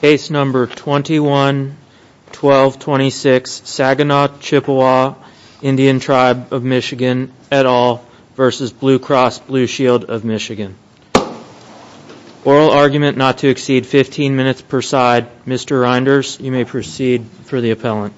Case number 211226 Saginaw Chippewa Indian Tribe of Michigan et al. v. Blue Cross Blue Shield of Michigan Oral argument not to exceed 15 minutes per side. Mr. Reinders, you may proceed for the appellant.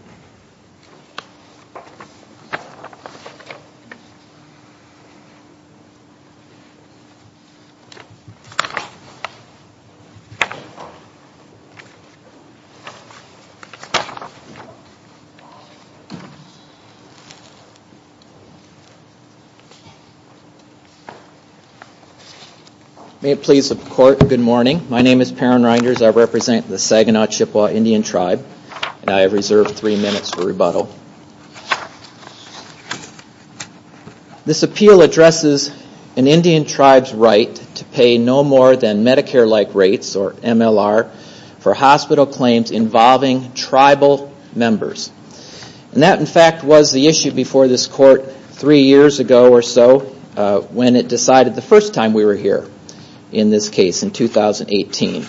May it please the court, good morning. My name is Perrin Reinders. I represent the Saginaw Chippewa Indian Tribe and I have reserved three minutes for rebuttal. This appeal addresses an Indian tribe's right to pay no more than Medicare-like rates, or MLR, for hospital claims involving tribal members. That, in fact, was the issue before this court three years ago or so when it decided the first time we were here in this case in 2018.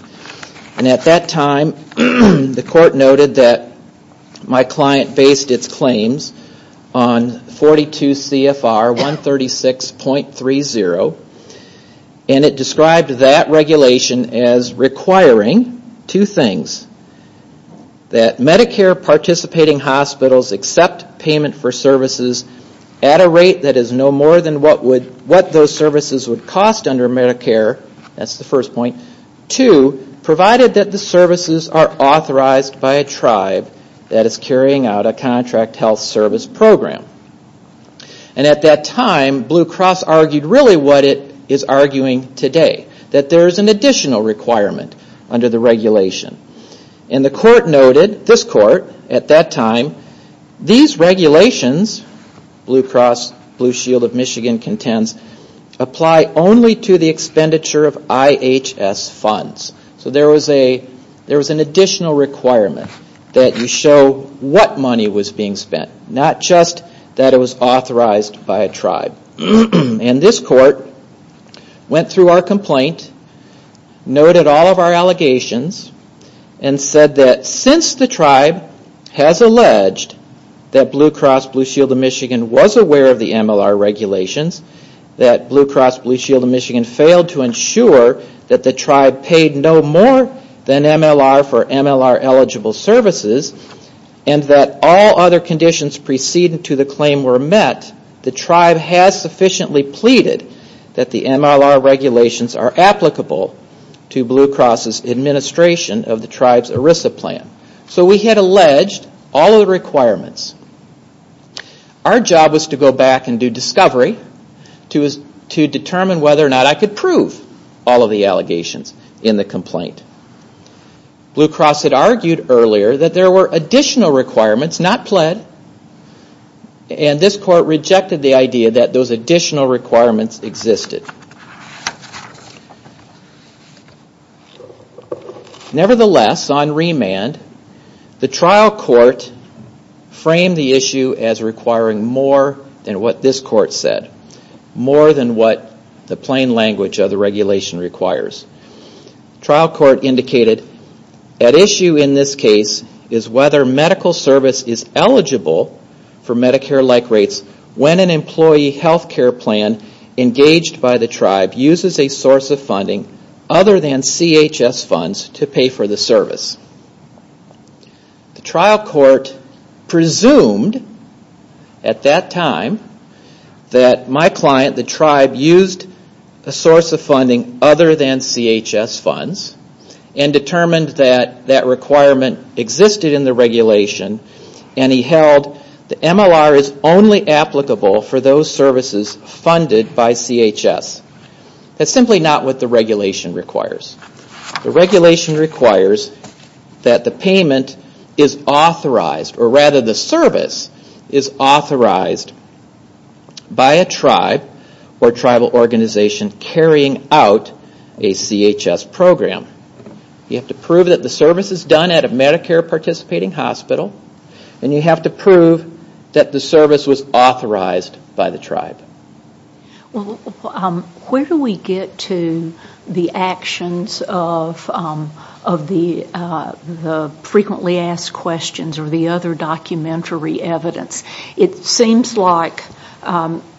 At that time, the court noted that my client based its claims on 42 CFR 136.30 and it described that regulation as requiring two things. That Medicare participating hospitals accept payment for services at a rate that is no more than what those services would cost under Medicare. That's the first point. Two, provided that the services are authorized by a tribe that is carrying out a contract health service program. At that time, Blue Cross argued really what it is arguing today, that there is an additional requirement under the regulation. The court noted, this court, at that time, these regulations, Blue Cross, Blue Shield of Michigan contends, apply only to the expenditure of IHS funds. There was an additional requirement that you show what money was being spent, not just that it was authorized by a tribe. This court went through our complaint, noted all of our allegations, and said that since the tribe has alleged that Blue Cross, Blue Shield of Michigan was aware of the MLR regulations, that Blue Cross, Blue Shield of Michigan failed to ensure that the tribe paid no more than MLR for MLR eligible services, and that all other conditions preceding to the claim were met, the tribe has sufficiently pleaded that the MLR regulations are applicable to Blue Cross' administration of the tribe's ERISA plan. So we had alleged all of the requirements. Our job was to go back and do discovery to determine whether or not I could prove all of the allegations in the complaint. Blue Cross had argued earlier that there were additional requirements not pledged, and this court rejected the idea that those additional requirements existed. Nevertheless, on remand, the trial court framed the issue as requiring more than what this court said, more than what the plain language of the regulation requires. Trial court indicated that issue in this case is whether medical service is eligible for Medicare-like rates when an employee health care plan engaged by the tribe uses a source of funding other than CHS funds to pay for the service. The trial court presumed at that time that my client, the tribe, used a source of funding other than CHS funds, and determined that that requirement existed in the regulation, and he held the MLR is only applicable for those services funded by CHS. That's simply not what the regulation requires. The regulation requires that the payment is authorized, or rather the service is authorized by a tribe or tribal organization carrying out a CHS program. You have to prove that the service is done at a Medicare-participating hospital, and you have to prove that the service was authorized by the tribe. Where do we get to the actions of the frequently asked questions or the other documentary evidence? It seems like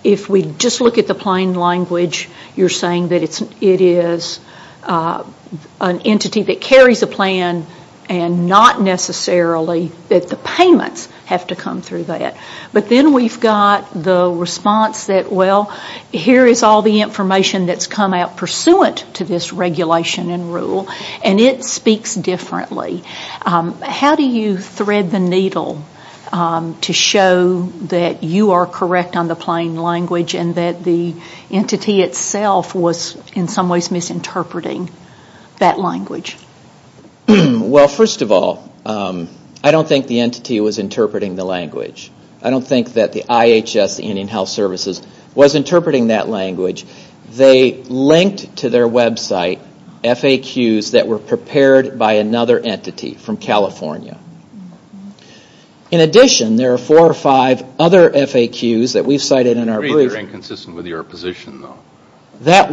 if we just look at the plain language, you're saying that it is an entity that carries a plan and not necessarily that the payments have to come through that. But then we've got the response that, well, here is all the information that's come out pursuant to this regulation and rule, and it speaks differently. How do you thread the needle to show that you are correct on the plain language and that the entity itself was in some ways misinterpreting that language? Well, first of all, I don't think the entity was interpreting the language. I don't think that the IHS, the Indian Health Services, was interpreting that language. They linked to their website FAQs that were prepared by another entity from California. In addition, there are four or five other FAQs that we cited in our brief. They're inconsistent with your position, though. I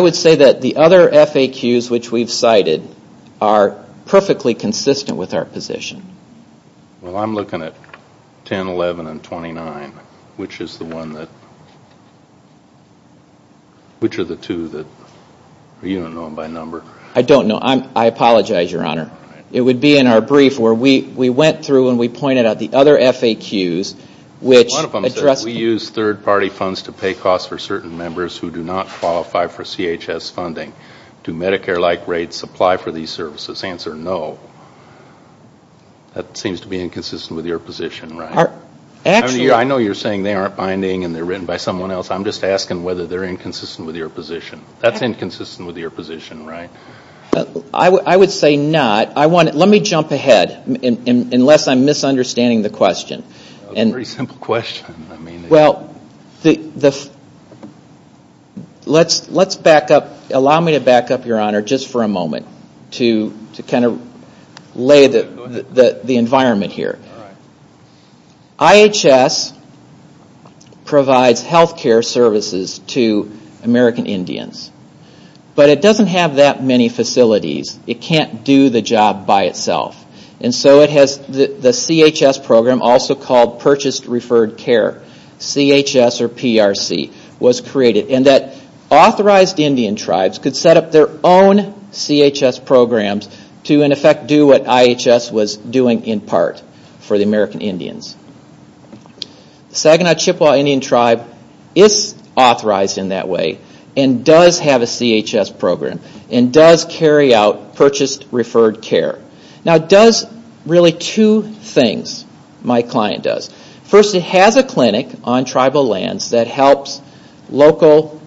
would say that the other FAQs which we've cited are perfectly consistent with our position. Well, I'm looking at 10, 11, and 29, which are the two that are even known by number. I don't know. I apologize, Your Honor. It would be in our brief where we went through and we pointed out the other FAQs. One of them said, we use third-party funds to pay costs for certain members who do not qualify for CHS funding. Do Medicare-like rates apply for these services? Answer, no. That seems to be inconsistent with your position, right? I know you're saying they aren't binding and they're written by someone else. I'm just asking whether they're inconsistent with your position. That's inconsistent with your position, right? I would say not. Let me jump ahead, unless I'm misunderstanding the question. It's a pretty simple question. Well, let's back up. Allow me to back up, Your Honor, just for a moment to kind of lay the environment here. IHS provides health care services to American Indians, but it doesn't have that many facilities. It can't do the job by itself. And so the CHS program, also called Purchased Referred Care, CHS or PRC, was created. And that authorized Indian tribes could set up their own CHS programs to, in effect, do what IHS was doing in part for the American Indians. Saginaw Chippewa Indian Tribe is authorized in that way and does have a CHS program and does carry out Purchased Referred Care. Now, it does really two things, my client does. First, it has a clinic on tribal lands that helps local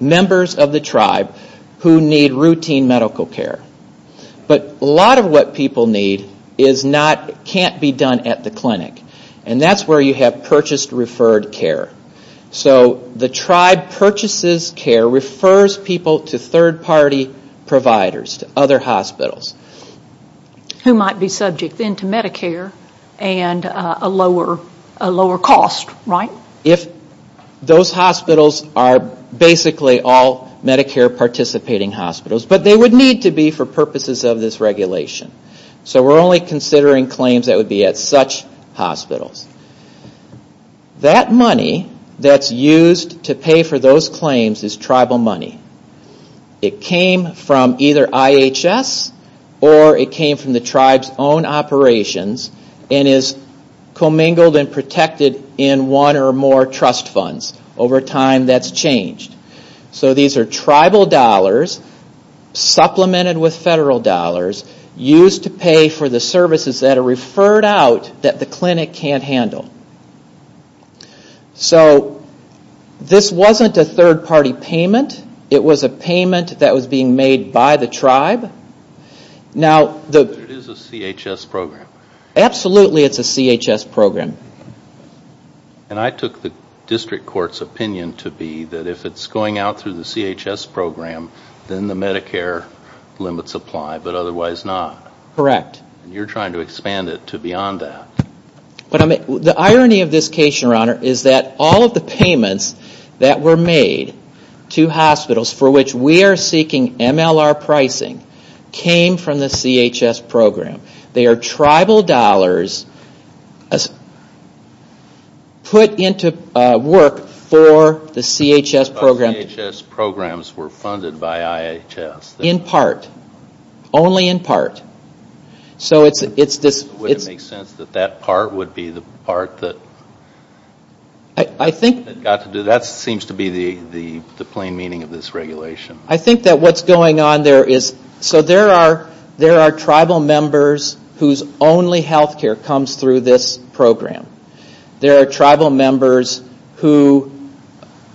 members of the tribe who need routine medical care. But a lot of what people need can't be done at the clinic. And that's where you have Purchased Referred Care. So the tribe purchases care, refers people to third-party providers, to other hospitals. Who might be subject then to Medicare and a lower cost, right? If those hospitals are basically all Medicare-participating hospitals, but they would need to be for purposes of this regulation. So we're only considering claims that would be at such hospitals. That money that's used to pay for those claims is tribal money. It came from either IHS or it came from the tribe's own operations and is commingled and protected in one or more trust funds over time that's changed. So these are tribal dollars supplemented with federal dollars used to pay for the services that are referred out that the clinic can't handle. So this wasn't a third-party payment. It was a payment that was being made by the tribe. It is a CHS program. Absolutely, it's a CHS program. And I took the district court's opinion to be that if it's going out through the CHS program, then the Medicare limits apply, but otherwise not. Correct. You're trying to expand it to beyond that. The irony of this case, Your Honor, is that all of the payments that were made to hospitals for which we are seeking MLR pricing came from the CHS program. They are tribal dollars put into work for the CHS program. All CHS programs were funded by IHS. In part. Only in part. Would it make sense that that part would be the part that got to do that? That seems to be the plain meaning of this regulation. I think that what's going on there is there are tribal members whose only health care comes through this program. There are tribal members who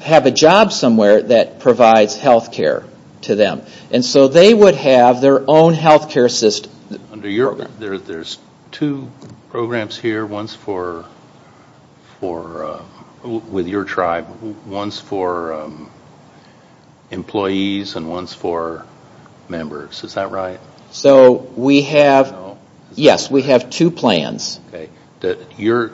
have a job somewhere that provides health care to them. And so they would have their own health care system. There's two programs here, one's with your tribe, one's for employees and one's for members. Is that right? Yes, we have two plans. Your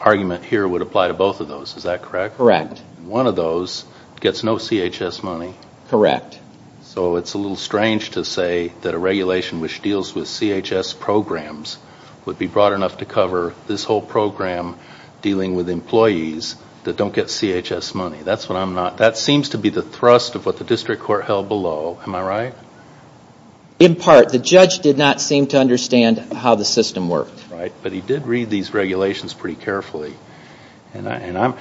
argument here would apply to both of those, is that correct? Correct. One of those gets no CHS money. Correct. So it's a little strange to say that a regulation which deals with CHS programs would be broad enough to cover this whole program dealing with employees that don't get CHS money. That seems to be the thrust of what the district court held below. Am I right? In part. The judge did not seem to understand how the system worked. But he did read these regulations pretty carefully. I'm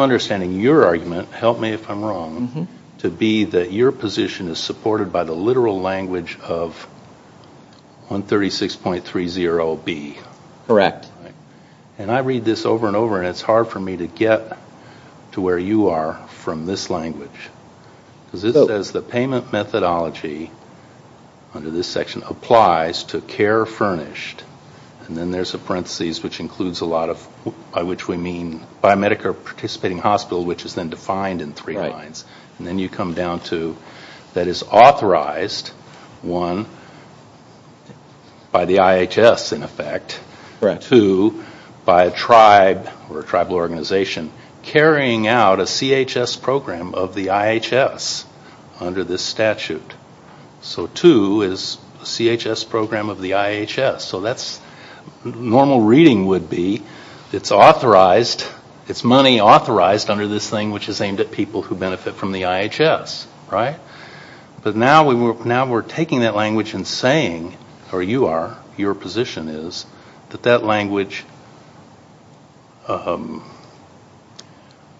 understanding your argument, help me if I'm wrong, to be that your position is supported by the literal language of 136.30B. Correct. And I read this over and over and it's hard for me to get to where you are from this language. It says the payment methodology under this section applies to care furnished, and then there's a parenthesis which includes a lot of, by which we mean biomedical participating hospital, which is then defined in three lines. And then you come down to that it's authorized, one, by the IHS in effect, and two, by a tribe or a tribal organization carrying out a CHS program of the IHS under this statute. So two is a CHS program of the IHS. So that's normal reading would be it's authorized, it's money authorized under this thing, which is aimed at people who benefit from the IHS. But now we're taking that language and saying, or you are, your position is, that that language,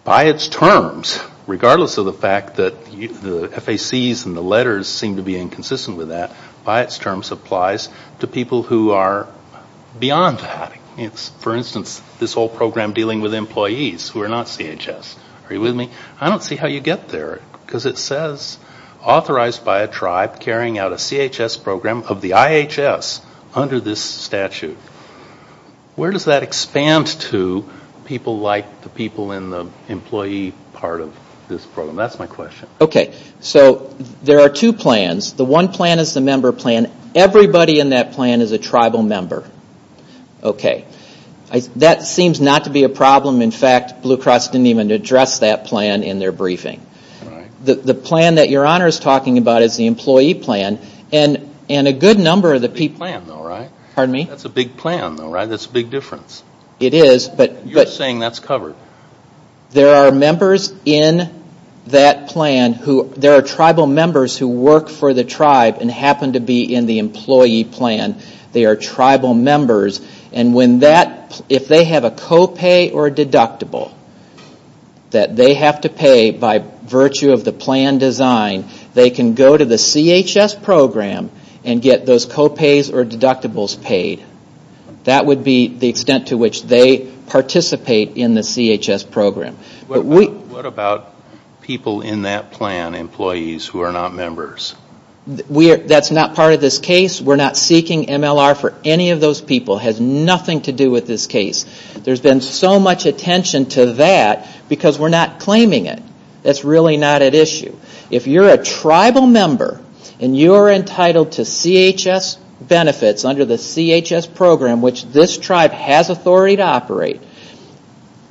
by its terms, regardless of the fact that the FACs and the letters seem to be inconsistent with that, by its terms applies to people who are beyond that. For instance, this whole program dealing with employees who are not CHS. Are you with me? I don't see how you get there because it says authorized by a tribe carrying out a CHS program of the IHS under this statute. Where does that expand to people like the people in the employee part of this program? That's my question. Okay. So there are two plans. The one plan is the member plan. Everybody in that plan is a tribal member. Okay. That seems not to be a problem. In fact, Blue Cross didn't even address that plan in their briefing. The plan that Your Honor is talking about is the employee plan. And a good number of the people in that plan, though, right? Pardon me? That's a big plan, though, right? That's a big difference. It is. You're saying that's covered. There are members in that plan who, there are tribal members who work for the tribe and happen to be in the employee plan. They are tribal members. And when that, if they have a copay or deductible that they have to pay by virtue of the plan design, they can go to the CHS program and get those copays or deductibles paid. That would be the extent to which they participate in the CHS program. What about people in that plan, employees who are not members? That's not part of this case. We're not seeking MLR for any of those people. It has nothing to do with this case. There's been so much attention to that because we're not claiming it. That's really not at issue. If you're a tribal member and you are entitled to CHS benefits under the CHS program, which this tribe has authority to operate,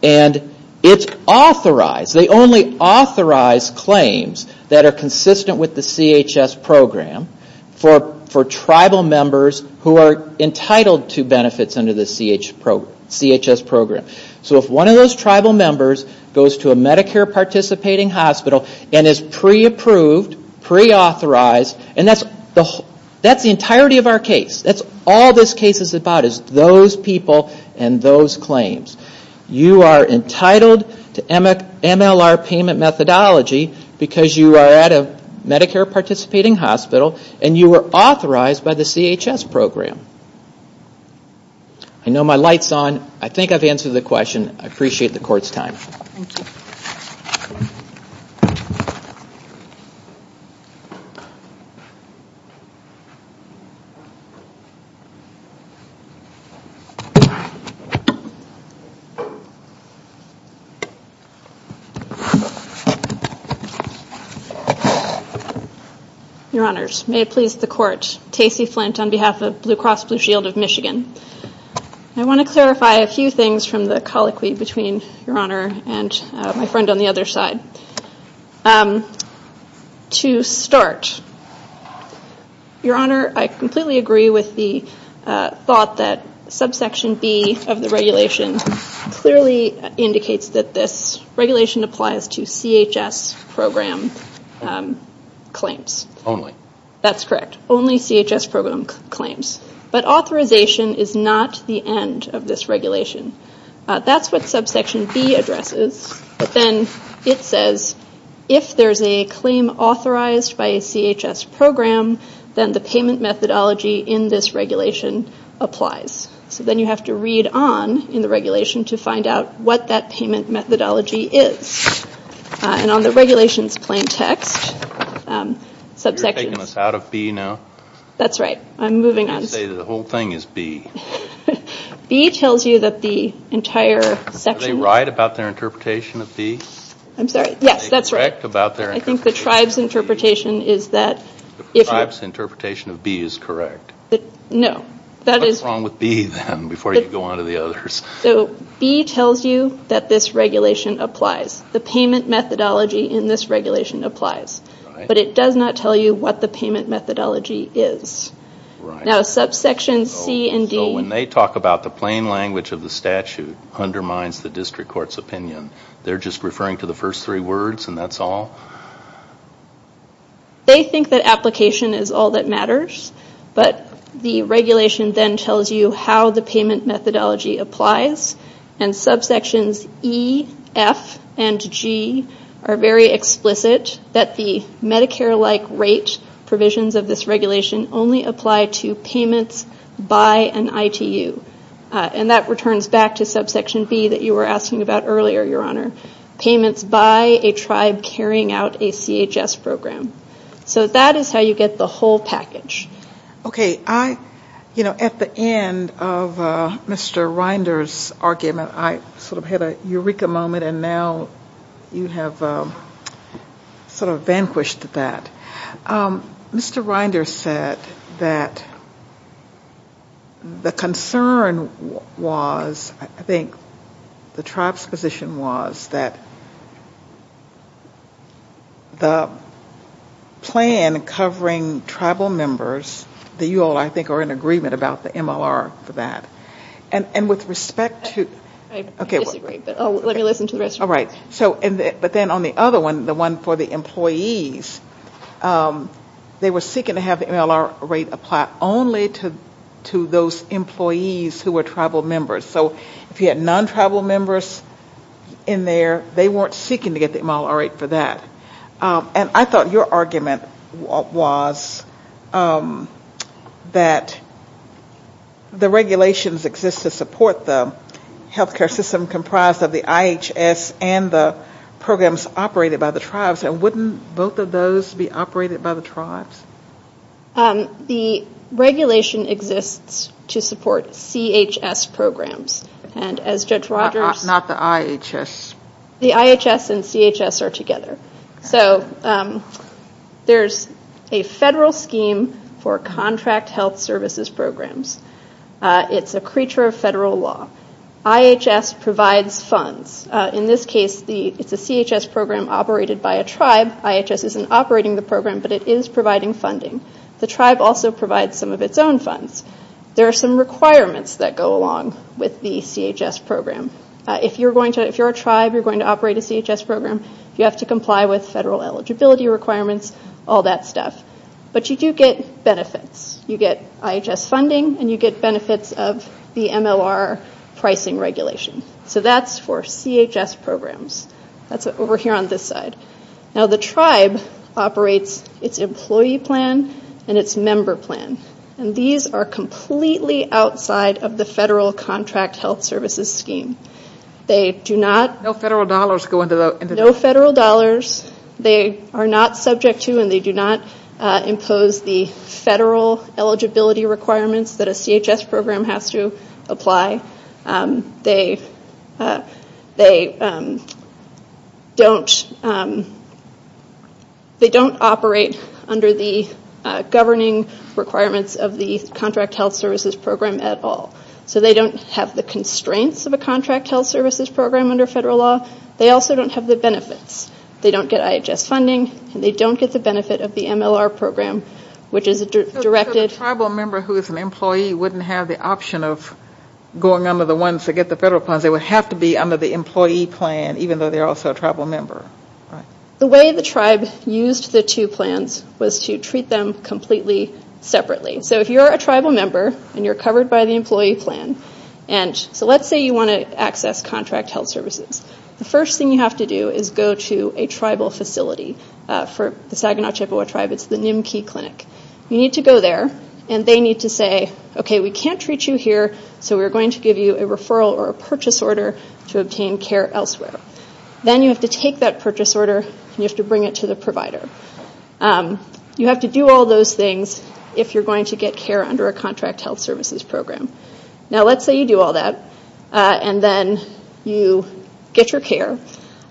and it's authorized, they only authorize claims that are consistent with the CHS program for tribal members who are entitled to benefits under the CHS program. So if one of those tribal members goes to a Medicare participating hospital and is pre-approved, pre-authorized, and that's the entirety of our case. All this case is about is those people and those claims. You are entitled to MLR payment methodology because you are at a Medicare participating hospital and you are authorized by the CHS program. I know my light's on. I think I've answered the question. I appreciate the Court's time. Thank you. Your Honors, may it please the Court, Casey Flint on behalf of Blue Cross Blue Shield of Michigan. I want to clarify a few things from the colloquy between Your Honor and my friend on the other side. To start, Your Honor, I completely agree with the thought that subsection B of the regulation clearly indicates that this regulation applies to CHS program claims. Only. That's correct. Only CHS program claims. But authorization is not the end of this regulation. That's what subsection B addresses. But then it says if there's a claim authorized by a CHS program, then the payment methodology in this regulation applies. So then you have to read on in the regulation to find out what that payment methodology is. And on the regulation's plain text, subsection- You're taking this out of B now? That's right. I'm moving on. I was going to say the whole thing is B. B tells you that the entire section- Are they right about their interpretation of B? I'm sorry? Yes, that's right. I think the tribe's interpretation is that- The tribe's interpretation of B is correct. No, that is- What's wrong with B then before you go on to the others? So B tells you that this regulation applies. The payment methodology in this regulation applies. But it does not tell you what the payment methodology is. Now, subsection C and D- So when they talk about the plain language of the statute undermines the district court's opinion, they're just referring to the first three words and that's all? They think that application is all that matters. But the regulation then tells you how the payment methodology applies. And subsections E, F, and G are very explicit that the Medicare-like rate provisions of this regulation only apply to payments by an ITU. And that returns back to subsection B that you were asking about earlier, Your Honor. Payments by a tribe carrying out a CHS program. So that is how you get the whole package. Okay. You know, at the end of Mr. Rinder's argument I sort of had a eureka moment and now you have sort of vanquished that. Mr. Rinder said that the concern was- The plan covering tribal members, you all I think are in agreement about the MLR for that. And with respect to- I disagree, but I'll listen to Mr. Rinder. All right. But then on the other one, the one for the employees, they were seeking to have the MLR rate apply only to those employees who were tribal members. So if you had non-tribal members in there, they weren't seeking to get the MLR rate for that. And I thought your argument was that the regulations exist to support the healthcare system comprised of the IHS and the programs operated by the tribes. And wouldn't both of those be operated by the tribes? The regulation exists to support CHS programs. And as Judge Rogers- Not the IHS. The IHS and CHS are together. So there's a federal scheme for contract health services programs. It's a creature of federal law. IHS provides funds. In this case, it's a CHS program operated by a tribe. IHS isn't operating the program, but it is providing funding. The tribe also provides some of its own funds. There are some requirements that go along with the CHS program. If you're a tribe, you're going to operate a CHS program. You have to comply with federal eligibility requirements, all that stuff. But you do get benefits. You get IHS funding, and you get benefits of the MLR pricing regulation. So that's for CHS programs. That's over here on this side. Now, the tribe operates its employee plan and its member plan. And these are completely outside of the federal contract health services scheme. They do not- No federal dollars go into the- No federal dollars. They are not subject to and they do not impose the federal eligibility requirements that a CHS program has to apply. They don't operate under the governing requirements of the contract health services program at all. So they don't have the constraints of a contract health services program under federal law. They also don't have the benefits. They don't get IHS funding. They don't get the benefit of the MLR program, which is directed- So if it's a tribal member who is an employee, they wouldn't have the option of going under the ones that get the federal plans. They would have to be under the employee plan, even though they're also a tribal member. The way the tribe used the two plans was to treat them completely separately. So if you're a tribal member and you're covered by the employee plan, and so let's say you want to access contract health services, the first thing you have to do is go to a tribal facility. For the Saginaw Chippewa Tribe, it's the Nimkee Clinic. You need to go there, and they need to say, okay, we can't treat you here, so we're going to give you a referral or a purchase order to obtain care elsewhere. Then you have to take that purchase order, and you have to bring it to the provider. You have to do all those things if you're going to get care under a contract health services program. Now let's say you do all that, and then you get your care.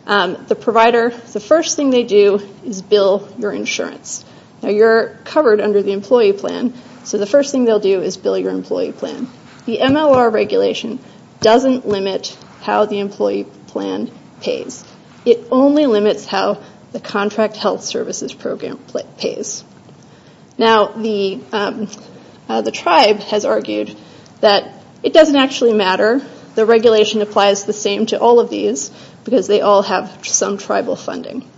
The provider, the first thing they do is bill your insurance. Now you're covered under the employee plan, so the first thing they'll do is bill your employee plan. The MLR regulation doesn't limit how the employee plan pays. It only limits how the contract health services program pays. Now the tribe has argued that it doesn't actually matter. The regulation applies the same to all of these because they all have some tribal funding.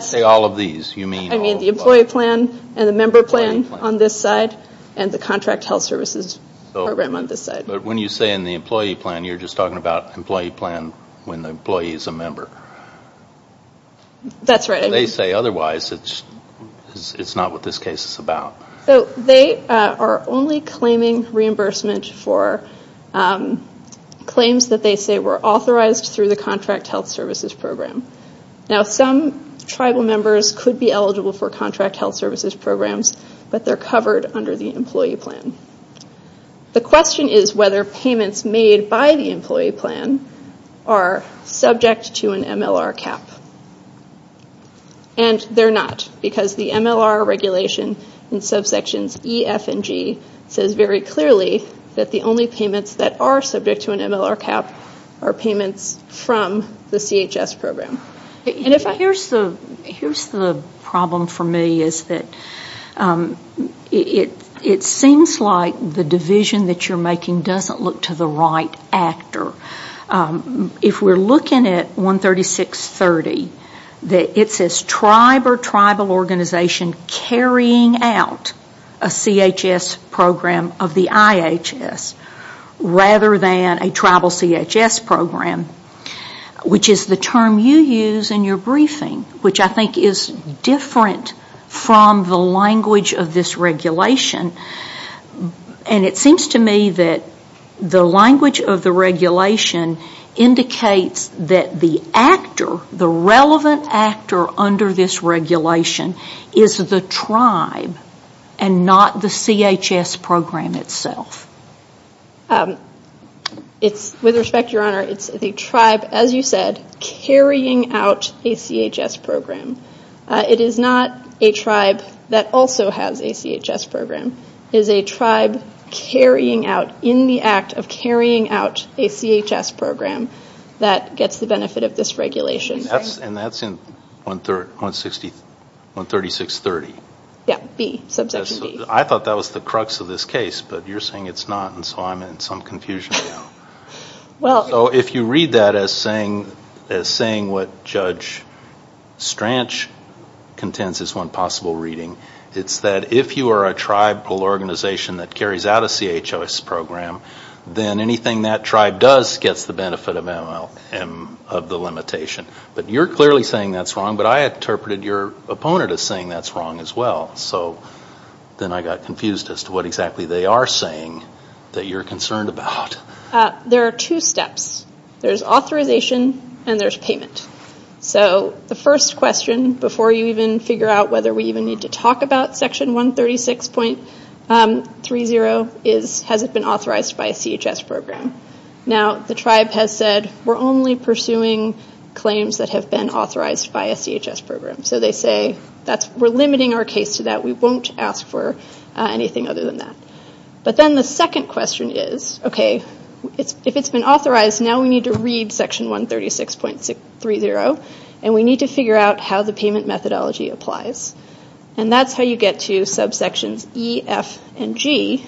Say all of these. I mean the employee plan and the member plan on this side, and the contract health services program on this side. But when you say in the employee plan, you're just talking about the employee plan when the employee is a member. That's right. They say otherwise, it's not what this case is about. So they are only claiming reimbursement for claims that they say were authorized through the contract health services program. Now some tribal members could be eligible for contract health services programs, but they're covered under the employee plan. The question is whether payments made by the employee plan are subject to an MLR cap. And they're not because the MLR regulation in subsections E, F, and G says very clearly that the only payments that are subject to an MLR cap are payments from the CHS program. Here's the problem for me is that it seems like the division that you're making doesn't look to the right actor. If we're looking at 13630, it says tribe or tribal organization carrying out a CHS program of the IHS, rather than a tribal CHS program, which is the term you use in your briefing, which I think is different from the language of this regulation. And it seems to me that the language of the regulation indicates that the actor, the relevant actor under this regulation is the tribe and not the CHS program itself. With respect, Your Honor, it's the tribe, as you said, carrying out a CHS program. It is not a tribe that also has a CHS program. It is a tribe in the act of carrying out a CHS program that gets the benefit of this regulation. And that's in 13630? Yeah, B, subsection B. I thought that was the crux of this case, but you're saying it's not, and so I'm in some confusion now. So if you read that as saying what Judge Stranch contends is one possible reading, it's that if you are a tribal organization that carries out a CHS program, then anything that tribe does gets the benefit of the limitation. But you're clearly saying that's wrong, but I interpreted your opponent as saying that's wrong as well. So then I got confused as to what exactly they are saying that you're concerned about. There are two steps. There's authorization and there's payment. So the first question before you even figure out whether we even need to talk about Section 136.30 is has it been authorized by a CHS program? Now, the tribe has said we're only pursuing claims that have been authorized by a CHS program. So they say we're limiting our case to that. We won't ask for anything other than that. But then the second question is, okay, if it's been authorized, now we need to read Section 136.30, and we need to figure out how the payment methodology applies. And that's how you get to subsections E, F, and G,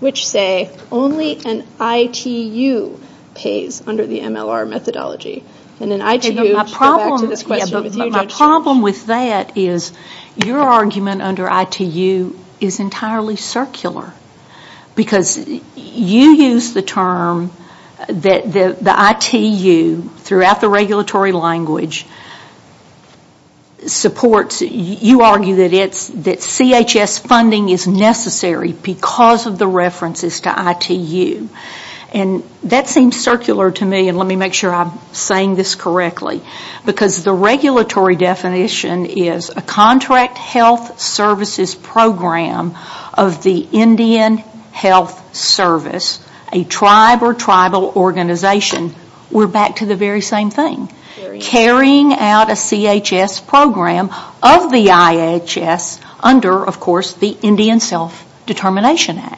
which say only an ITU pays under the MLR methodology. My problem with that is your argument under ITU is entirely circular because you use the term that the ITU, throughout the regulatory language, supports. You argue that CHS funding is necessary because of the references to ITU. And that seems circular to me, and let me make sure I'm saying this correctly, because the regulatory definition is a contract health services program of the Indian Health Service, a tribe or tribal organization. We're back to the very same thing. Carrying out a CHS program of the IHS under, of course, the Indian Self-Determination Act.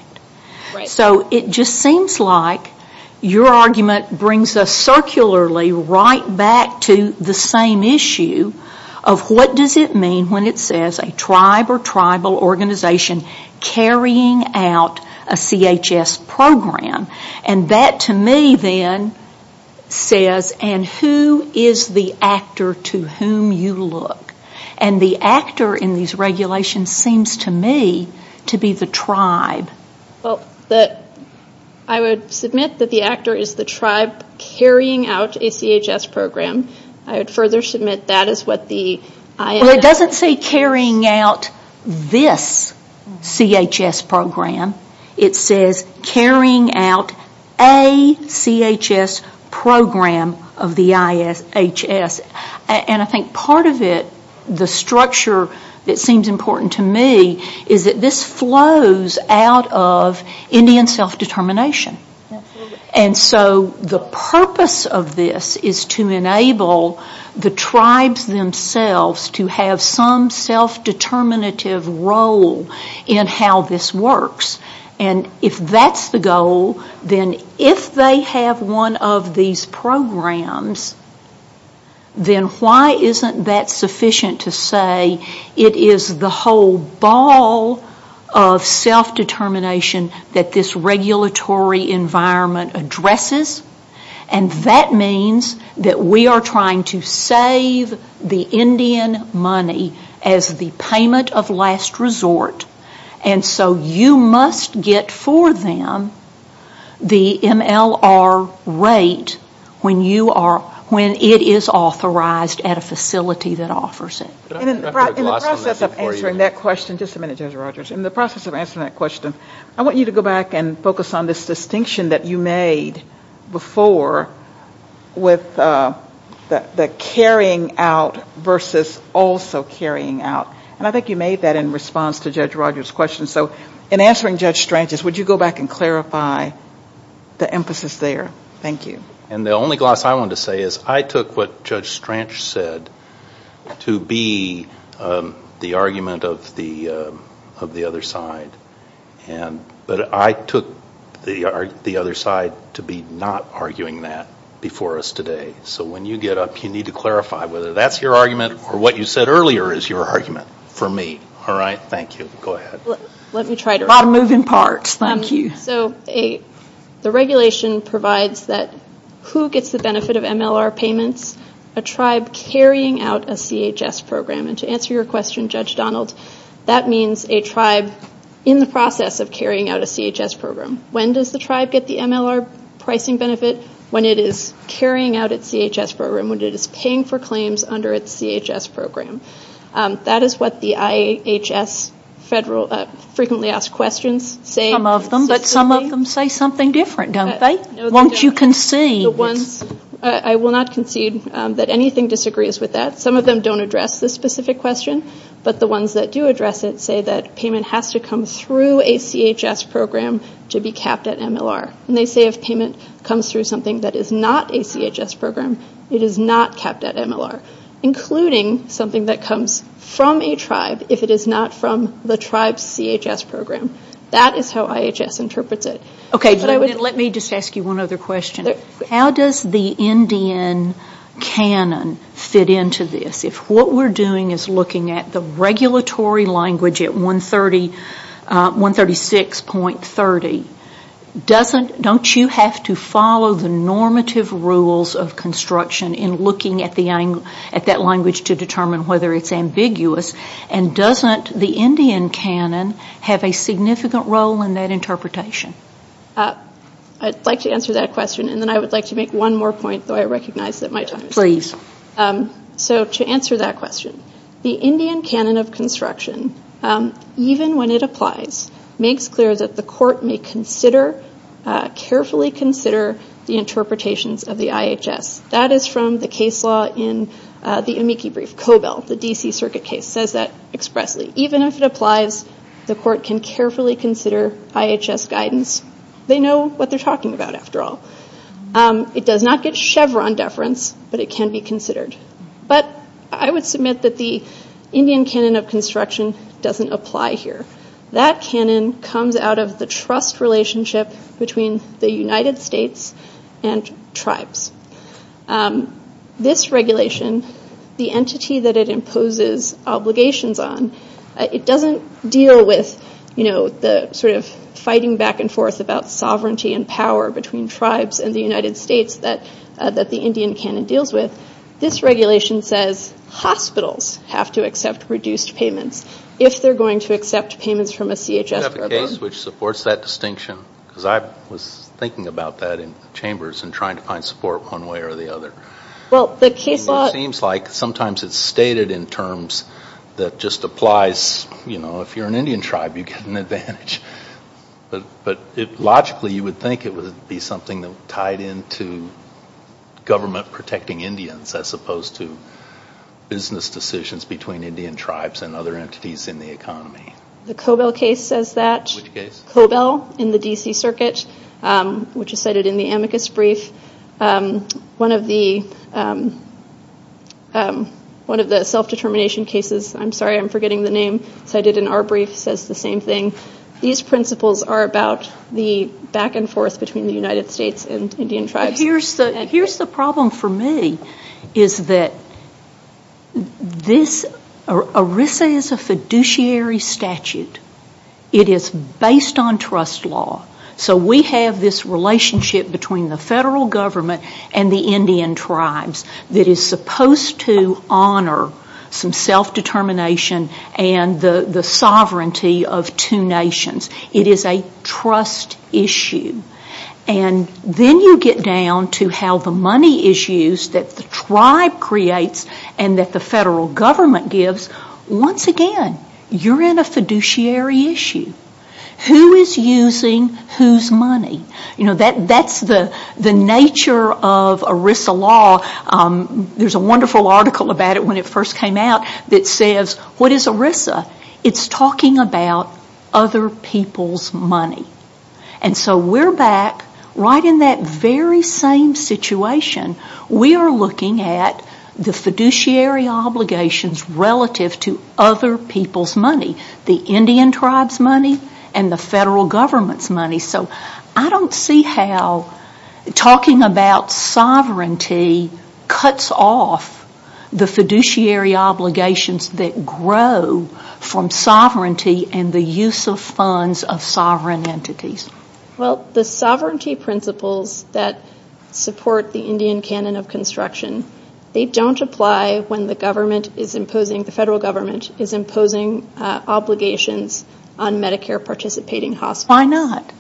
So it just seems like your argument brings us circularly right back to the same issue of what does it mean when it says a tribe or tribal organization carrying out a CHS program. And that to me then says, and who is the actor to whom you look? And the actor in these regulations seems to me to be the tribe. Well, I would submit that the actor is the tribe carrying out a CHS program. I would further submit that is what the IHS... Well, it doesn't say carrying out this CHS program. It says carrying out a CHS program of the IHS. And I think part of it, the structure that seems important to me, is that this flows out of Indian self-determination. And so the purpose of this is to enable the tribes themselves to have some self-determinative role in how this works. And if that's the goal, then if they have one of these programs, then why isn't that sufficient to say it is the whole ball of self-determination that this regulatory environment addresses? And that means that we are trying to save the Indian money as the payment of last resort. And so you must get for them the MLR rate when it is authorized at a facility that offers it. In the process of answering that question, just a minute, Judge Rogers. In the process of answering that question, I want you to go back and focus on this distinction that you made before with the carrying out versus also carrying out. And I think you made that in response to Judge Rogers' question. So in answering Judge Stranch's, would you go back and clarify the emphasis there? Thank you. And the only gloss I want to say is I took what Judge Stranch said to be the argument of the other side. But I took the other side to be not arguing that before us today. So when you get up, you need to clarify whether that's your argument or what you said earlier is your argument for me. All right? Thank you. Go ahead. I'll move in part. Thank you. So the regulation provides that who gets the benefit of MLR payments? A tribe carrying out a CHS program. And to answer your question, Judge Donald, that means a tribe in the process of carrying out a CHS program. When does the tribe get the MLR pricing benefit? When it is carrying out a CHS program, when it is paying for claims under a CHS program. That is what the IHS frequently asked questions say. Some of them. But some of them say something different, don't they? Once you concede. I will not concede that anything disagrees with that. Some of them don't address this specific question, but the ones that do address it say that payment has to come through a CHS program to be capped at MLR. And they say if payment comes through something that is not a CHS program, it is not capped at MLR, including something that comes from a tribe if it is not from the tribe's CHS program. That is how IHS interprets it. Okay. Let me just ask you one other question. How does the NDN canon fit into this? If what we are doing is looking at the regulatory language at 136.30, don't you have to follow the normative rules of construction in looking at that language to determine whether it is ambiguous? And doesn't the NDN canon have a significant role in that interpretation? I would like to answer that question, and then I would like to make one more point, though I recognize that my time is up. Please. So to answer that question, the NDN canon of construction, even when it applies, makes clear that the court may carefully consider the interpretations of the IHS. That is from the case law in the amici brief. Cobell, the D.C. Circuit case, says that expressly. Even if it applies, the court can carefully consider IHS guidance. They know what they are talking about, after all. It does not get Chevron deference, but it can be considered. But I would submit that the Indian canon of construction doesn't apply here. That canon comes out of the trust relationship between the United States and tribes. This regulation, the entity that it imposes obligations on, it doesn't deal with the sort of fighting back and forth about sovereignty and power between tribes and the United States that the Indian canon deals with. This regulation says hospitals have to accept reduced payments if they are going to accept payments from a CHS. I have a case which supports that distinction, because I was thinking about that in chambers and trying to find support one way or the other. It seems like sometimes it is stated in terms that just applies. If you are an Indian tribe, you get an advantage. Logically, you would think it would be something tied into government protecting Indians as opposed to business decisions between Indian tribes and other entities in the economy. The Cobell case says that. Cobell in the D.C. Circuit, which is cited in the amicus brief. One of the self-determination cases. I'm sorry, I'm forgetting the name. It's cited in our brief. It says the same thing. These principles are about the back and forth between the United States and Indian tribes. Here's the problem for me. ERISA is a fiduciary statute. It is based on trust law. We have this relationship between the federal government and the Indian tribes that is supposed to honor some self-determination and the sovereignty of two nations. It is a trust issue. Then you get down to how the money is used that the tribe creates and that the federal government gives. Once again, you're in a fiduciary issue. Who is using whose money? That's the nature of ERISA law. There's a wonderful article about it when it first came out that says, what is ERISA? It's talking about other people's money. We're back right in that very same situation. We are looking at the fiduciary obligations relative to other people's money. The Indian tribe's money and the federal government's money. I don't see how talking about sovereignty cuts off the fiduciary obligations that grow from sovereignty and the use of funds of sovereign entities. The sovereignty principles that support the Indian canon of construction, they don't apply when the federal government is imposing obligations on Medicare participating hospitals. Why not?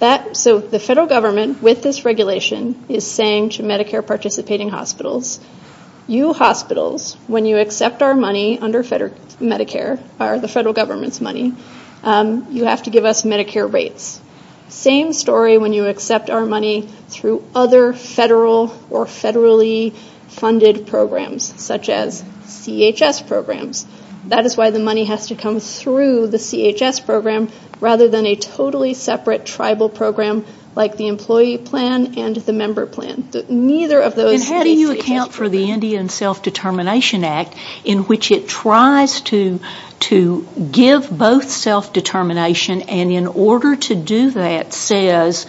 The federal government, with this regulation, is saying to Medicare participating hospitals, you hospitals, when you accept our money under the federal government's money, you have to give us Medicare rates. Same story when you accept our money through other federal or federally funded programs, such as CHS programs. That is why the money has to come through the CHS program rather than a totally separate tribal program like the employee plan and the member plan. How do you account for the Indian Self-Determination Act in which it tries to give both self-determination and in order to do that says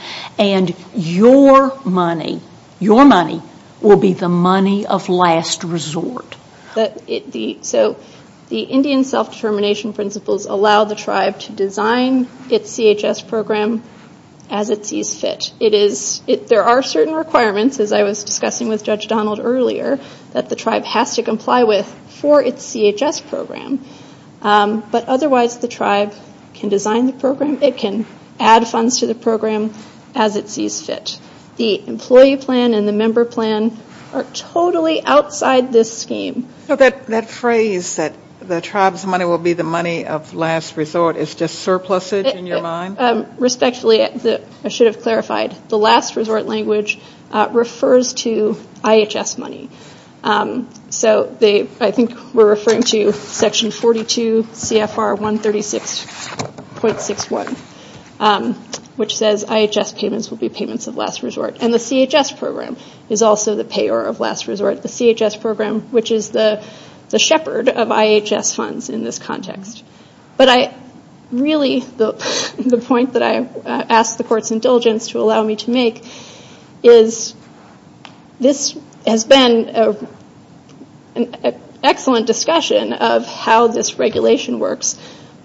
your money will be the money of last resort? The Indian self-determination principles allow the tribe to design its CHS program as it sees fit. There are certain requirements, as I was discussing with Judge Donald earlier, that the tribe has to comply with for its CHS program. But otherwise, the tribe can design the program. It can add funds to the program as it sees fit. The employee plan and the member plan are totally outside this scheme. So that phrase that the tribe's money will be the money of last resort is just surplusage in your mind? Respectfully, I should have clarified, the last resort language refers to IHS money. I think we're referring to Section 42 CFR 136.61, which says IHS payments will be payments of last resort. And the CHS program is also the payer of last resort. The CHS program, which is the shepherd of IHS funds in this context. But really, the point that I ask the Court's indulgence to allow me to make is this has been an excellent discussion of how this regulation works.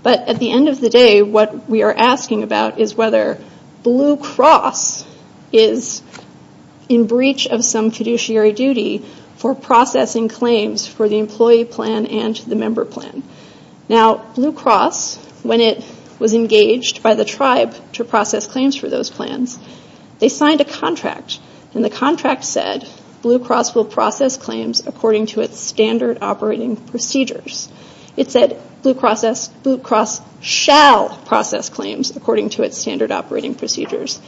But at the end of the day, what we are asking about is whether Blue Cross is in breach of some fiduciary duty for processing claims for the employee plan and the member plan. Now, Blue Cross, when it was engaged by the tribe to process claims for those plans, they signed a contract. And the contract said Blue Cross will process claims according to its standard operating procedures. It said Blue Cross shall process claims according to its standard operating procedures.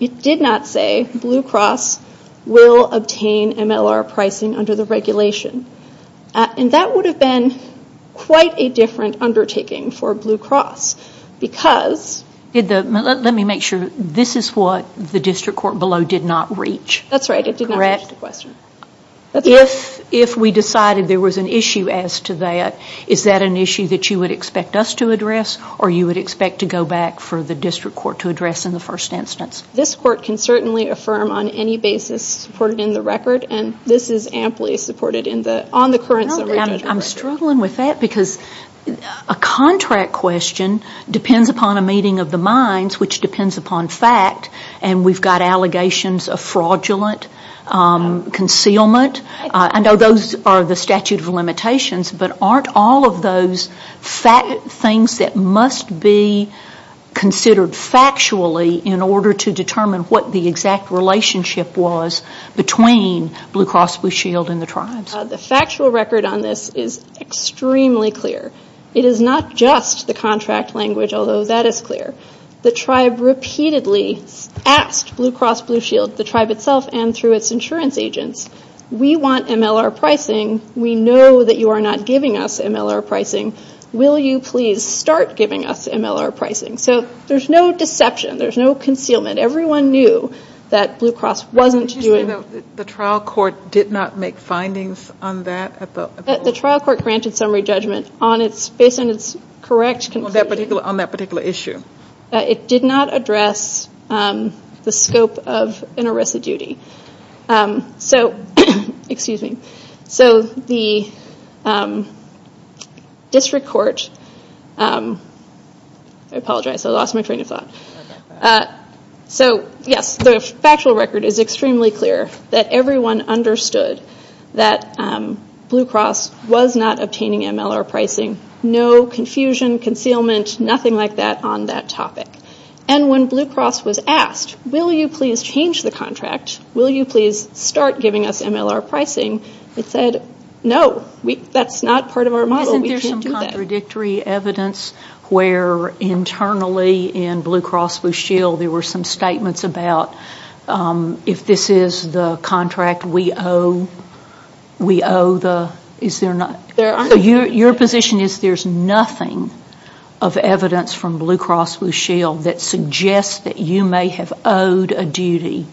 It did not say Blue Cross will obtain MLR pricing under the regulation. And that would have been quite a different undertaking for Blue Cross because... Let me make sure. This is what the district court below did not reach. That's right. It did not reach the question. If we decided there was an issue as to that, is that an issue that you would expect us to address or you would expect to go back for the district court to address in the first instance? This court can certainly affirm on any basis supported in the record. And this is amply supported on the current regulation. I'm struggling with that because a contract question depends upon a meeting of the minds, which depends upon fact, and we've got allegations of fraudulent concealment. I know those are the statute of limitations, but aren't all of those things that must be considered factually in order to determine what the exact relationship was between Blue Cross Blue Shield and the tribes? The factual record on this is extremely clear. It is not just the contract language, although that is clear. The tribe repeatedly asked Blue Cross Blue Shield, the tribe itself and through its insurance agents, we want MLR pricing. We know that you are not giving us MLR pricing. Will you please start giving us MLR pricing? So there's no deception. There's no concealment. Everyone knew that Blue Cross wasn't doing... So the trial court did not make findings on that? The trial court granted summary judgment on its correct... On that particular issue. It did not address the scope of an arrest of duty. So the district court... I apologize. I lost my train of thought. So yes, the factual record is extremely clear that everyone understood that Blue Cross was not obtaining MLR pricing. No confusion, concealment, nothing like that on that topic. And when Blue Cross was asked, will you please change the contract? Will you please start giving us MLR pricing? They said, no, that's not part of our model. Contradictory evidence where internally in Blue Cross Blue Shield, there were some statements about if this is the contract we owe. Your position is there's nothing of evidence from Blue Cross Blue Shield that suggests that you may have owed a duty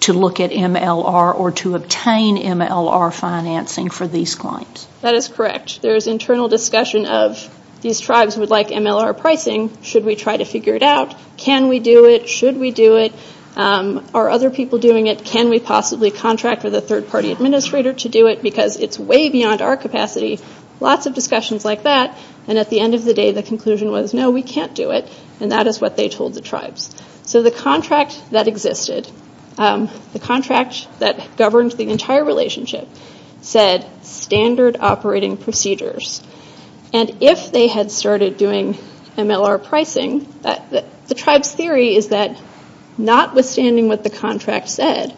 to look at MLR or to obtain MLR financing for these claims. That is correct. There's internal discussion of these tribes would like MLR pricing. Should we try to figure it out? Can we do it? Should we do it? Are other people doing it? Can we possibly contract with a third-party administrator to do it? Because it's way beyond our capacity. Lots of discussions like that. And at the end of the day, the conclusion was, no, we can't do it. And that is what they told the tribes. So the contract that existed, the contract that governs the entire relationship, said standard operating procedures. And if they had started doing MLR pricing, the tribe's theory is that notwithstanding what the contract said,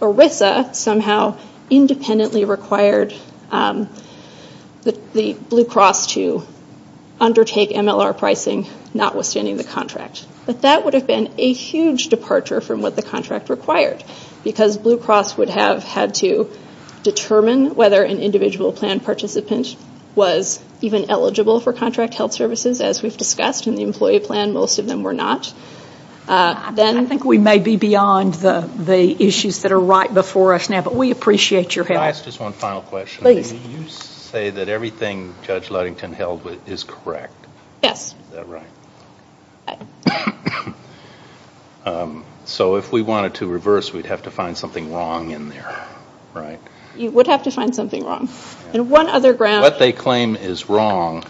ERISA somehow independently required the Blue Cross to undertake MLR pricing notwithstanding the contract. But that would have been a huge departure from what the contract required because Blue Cross would have had to determine whether an individual plan participant was even eligible for contract health services, as we've discussed, in the employee plan. Most of them were not. I think we may be beyond the issues that are right before us now, but we appreciate your help. Can I ask just one final question? Please. You say that everything Judge Ludington held is correct. Yes. Is that right? Right. So if we wanted to reverse, we'd have to find something wrong in there, right? You would have to find something wrong. What they claim is wrong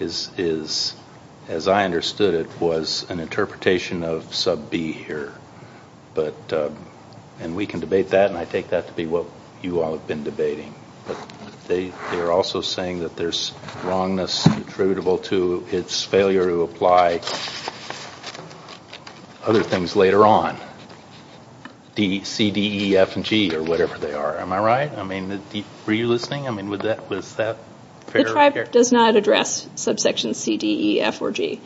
is, as I understood it, was an interpretation of sub B here. And we can debate that, and I take that to be what you all have been debating. They're also saying that there's wrongness attributable to its failure to apply other things later on, C, D, E, F, and G, or whatever they are. Am I right? I mean, were you listening? I mean, was that fair? The tribe does not address subsection C, D, E, F, or G.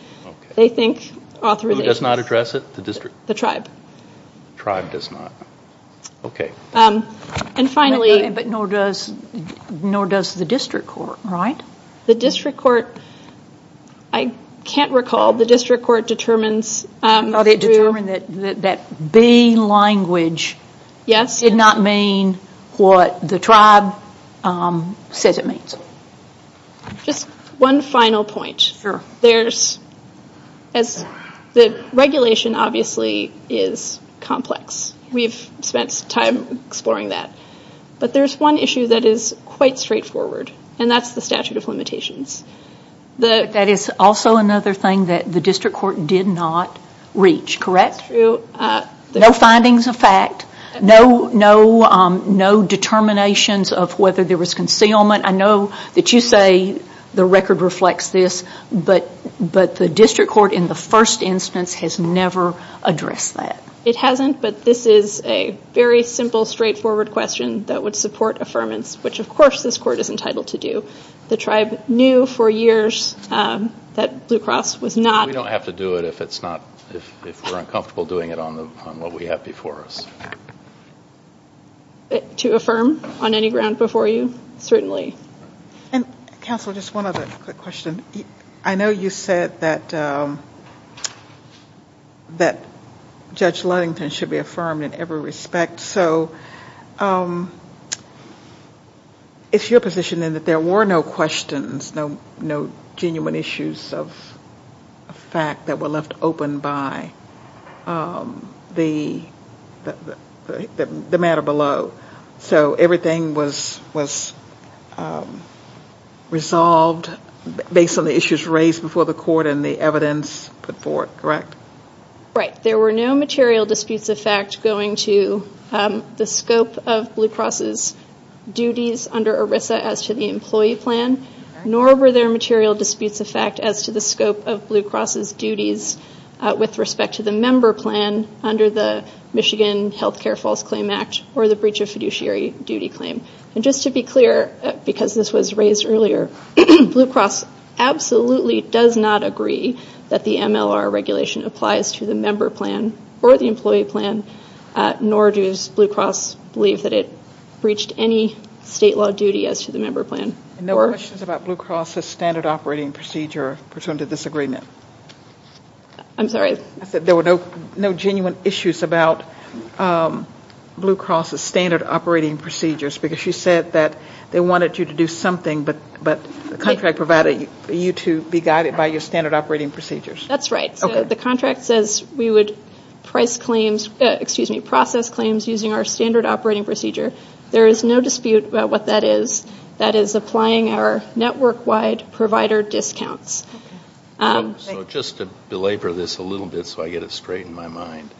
Who does not address it? The tribe. The tribe does not. Okay. And finally- But nor does the district court, right? The district court, I can't recall. The district court determines- That being language did not mean what the tribe says it means. Just one final point. Sure. The regulation, obviously, is complex. We've spent time exploring that. But there's one issue that is quite straightforward, and that's the statute of limitations. That is also another thing that the district court did not reach, correct? True. No findings of fact, no determinations of whether there was concealment. I know that you say the record reflects this, but the district court in the first instance has never addressed that. It hasn't, but this is a very simple, straightforward question that would support affirmance, which, of course, this court is entitled to do. The tribe knew for years that Blue Cross was not- We don't have to do it if we're uncomfortable doing it on what we have before us. To affirm on any ground before you? Certainly. And, counsel, just one other quick question. I know you said that Judge Ludington should be affirmed in every respect. So if you're positioning that there were no questions, no genuine issues of fact that were left open by the matter below, so everything was resolved based on the issues raised before the court and the evidence put forth, correct? Right. There were no material disputes of fact going to the scope of Blue Cross's duties under ERISA as to the employee plan, nor were there material disputes of fact as to the scope of Blue Cross's duties with respect to the member plan under the Michigan Healthcare False Claim Act or the breach of fiduciary duty claim. And just to be clear, because this was raised earlier, Blue Cross absolutely does not agree that the MLR regulation applies to the member plan or the employee plan, nor does Blue Cross believe that it breached any state law duty as to the member plan. And no questions about Blue Cross's standard operating procedure pursuant to this agreement? I'm sorry? I said there were no genuine issues about Blue Cross's standard operating procedures, because she said that they wanted you to do something but the contract provided you to be guided by your standard operating procedures. That's right. The contract says we would process claims using our standard operating procedure. There is no dispute about what that is. That is applying our network-wide provider discounts. So just to belabor this a little bit so I get it straight in my mind,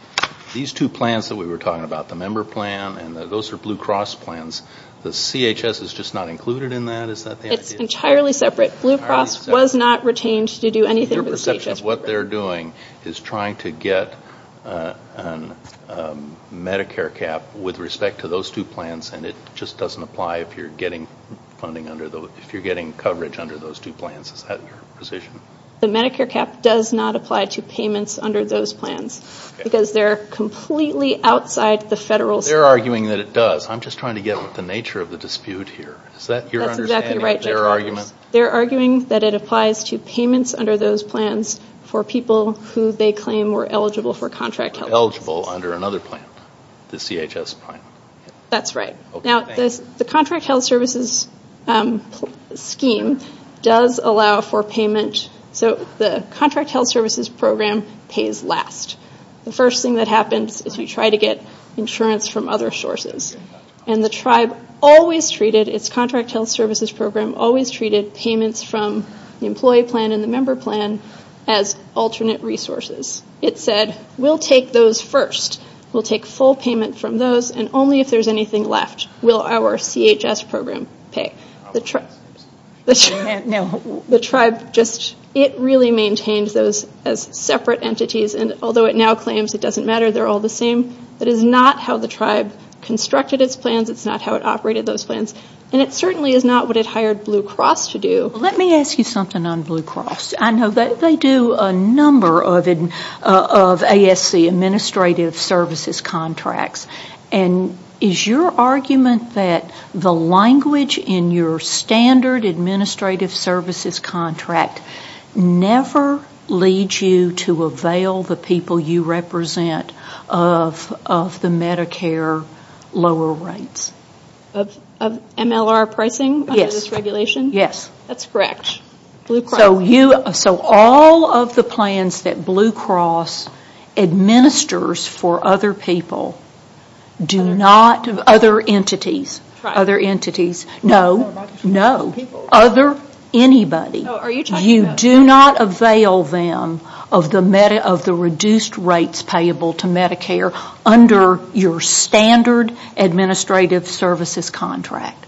these two plans that we were talking about, the member plan and those are Blue Cross plans, the CHS is just not included in that? It's entirely separate. Blue Cross was not retained to do anything with CHS. Your perception of what they're doing is trying to get a Medicare cap with respect to those two plans, and it just doesn't apply if you're getting coverage under those two plans. Is that your position? The Medicare cap does not apply to payments under those plans, because they're completely outside the federal- They're arguing that it does. I'm just trying to get with the nature of the dispute here. Is that your understanding of their argument? They're arguing that it applies to payments under those plans for people who they claim were eligible for contract help. Eligible under another plan, the CHS plan. That's right. Now, the contract health services scheme does allow for payment. So the contract health services program pays last. The first thing that happens is we try to get insurance from other sources, and the tribe always treated its contract health services program, always treated payments from the employee plan and the member plan as alternate resources. It said, we'll take those first. We'll take full payment from those, and only if there's anything left will our CHS program pay. The tribe just really maintains those as separate entities, and although it now claims it doesn't matter, they're all the same. It is not how the tribe constructed its plans. It's not how it operated those plans, and it certainly is not what it hired Blue Cross to do. Let me ask you something on Blue Cross. They do a number of ASC, administrative services contracts, and is your argument that the language in your standard administrative services contract never leads you to avail the people you represent of the Medicare lower rates? Of MLR pricing under this regulation? Yes. That's correct. So all of the plans that Blue Cross administers for other people do not, other entities, no, no, other anybody, you do not avail them of the reduced rates payable to Medicare under your standard administrative services contract?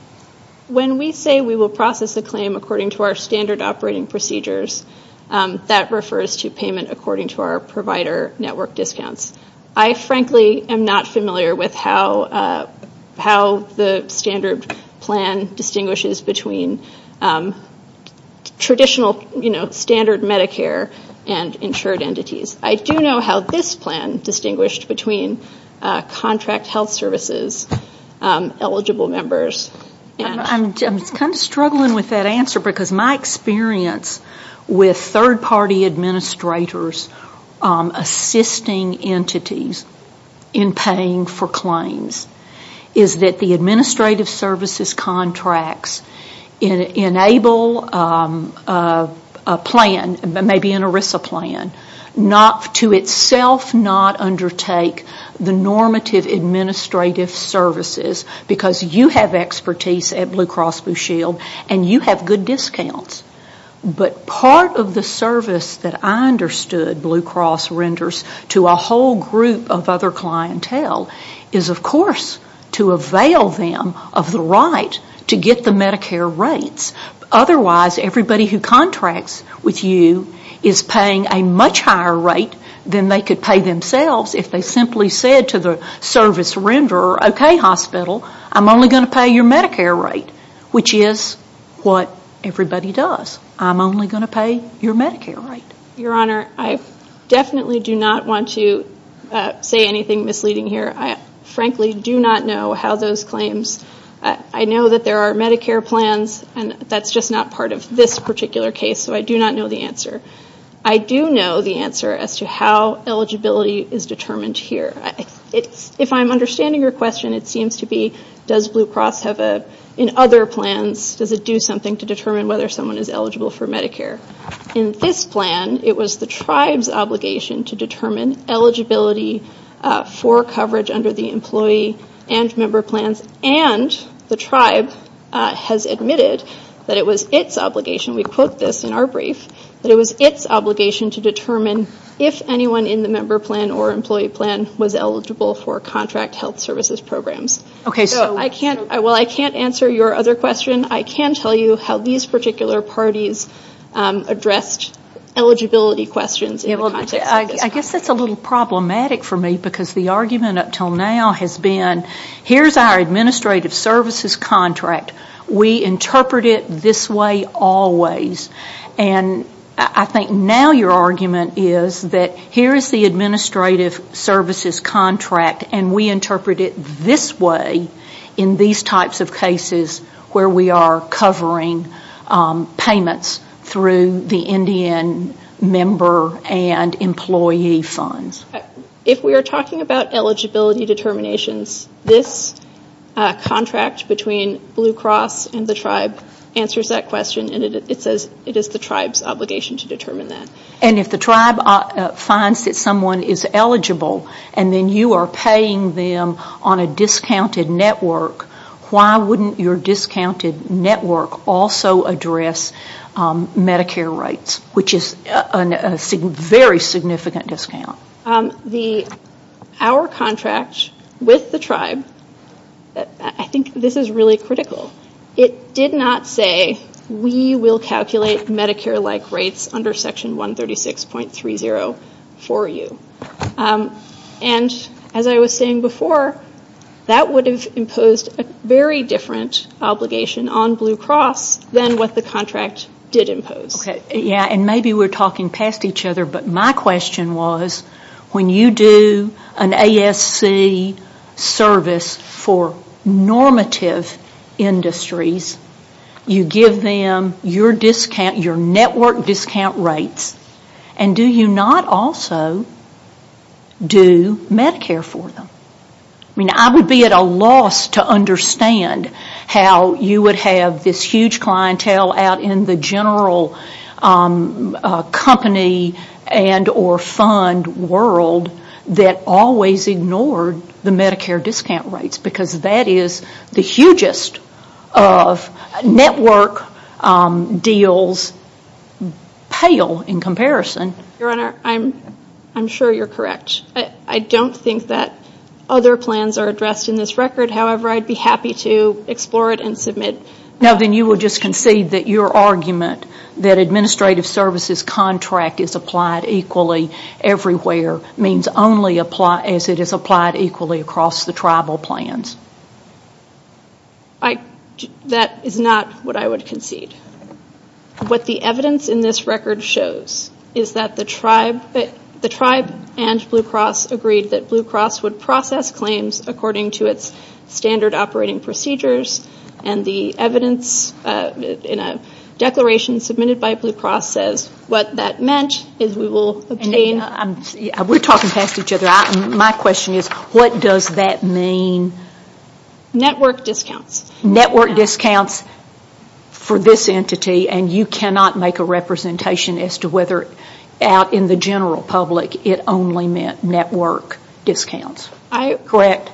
When we say we will process a claim according to our standard operating procedures, that refers to payment according to our provider network discounts. I frankly am not familiar with how the standard plan distinguishes between traditional, you know, standard Medicare and insured entities. I do know how this plan distinguished between contract health services eligible members. I'm kind of struggling with that answer because my experience with third-party administrators assisting entities in paying for claims is that the administrative services contracts enable a plan, maybe an ERISA plan, to itself not undertake the normative administrative services because you have expertise at Blue Cross Blue Shield and you have good discounts. But part of the service that I understood Blue Cross renders to a whole group of other clientele is, of course, to avail them of the right to get the Medicare rates. Otherwise, everybody who contracts with you is paying a much higher rate than they could pay themselves if they simply said to the service renderer, okay, hospital, I'm only going to pay your Medicare rate, which is what everybody does. I'm only going to pay your Medicare rate. Your Honor, I definitely do not want to say anything misleading here. I frankly do not know how those claims, I know that there are Medicare plans and that's just not part of this particular case, so I do not know the answer. I do know the answer as to how eligibility is determined here. If I'm understanding your question, it seems to be does Blue Cross in other plans, does it do something to determine whether someone is eligible for Medicare? In this plan, it was the tribe's obligation to determine eligibility for coverage under the employee and member plans, and the tribe has admitted that it was its obligation, we quote this in our brief, that it was its obligation to determine if anyone in the member plan or employee plan was eligible for contract health services programs. While I can't answer your other question, I can tell you how these particular parties addressed eligibility questions. I guess that's a little problematic for me because the argument up until now has been, here's our administrative services contract, we interpret it this way always. I think now your argument is that here is the administrative services contract and we interpret it this way in these types of cases where we are covering payments through the Indian member and employee funds. If we are talking about eligibility determinations, this contract between Blue Cross and the tribe answers that question and it says it is the tribe's obligation to determine that. And if the tribe finds that someone is eligible and then you are paying them on a discounted network, why wouldn't your discounted network also address Medicare rates, which is a very significant discount? Our contract with the tribe, I think this is really critical, it did not say we will calculate Medicare-like rates under Section 136.30 for you. And as I was saying before, that would have imposed a very different obligation on Blue Cross than what the contract did impose. Yeah, and maybe we're talking past each other, but my question was when you do an ASC service for normative industries, you give them your discount, your network discount rates, and do you not also do Medicare for them? I would be at a loss to understand how you would have this huge clientele out in the general company and or fund world that always ignored the Medicare discount rates because that is the hugest of network deals pale in comparison. Your Honor, I'm sure you're correct. I don't think that other plans are addressed in this record. However, I'd be happy to explore it and submit. Now then, you would just concede that your argument that administrative services contract is applied equally everywhere means only as it is applied equally across the tribal plans. That is not what I would concede. What the evidence in this record shows is that the tribe and Blue Cross agreed that Blue Cross would process claims according to its standard operating procedures, and the evidence in a declaration submitted by Blue Cross says what that meant is we will obtain... We're talking past each other. My question is what does that mean? Network discounts. Network discounts for this entity, and you cannot make a representation as to whether out in the general public it only meant network discounts. Correct.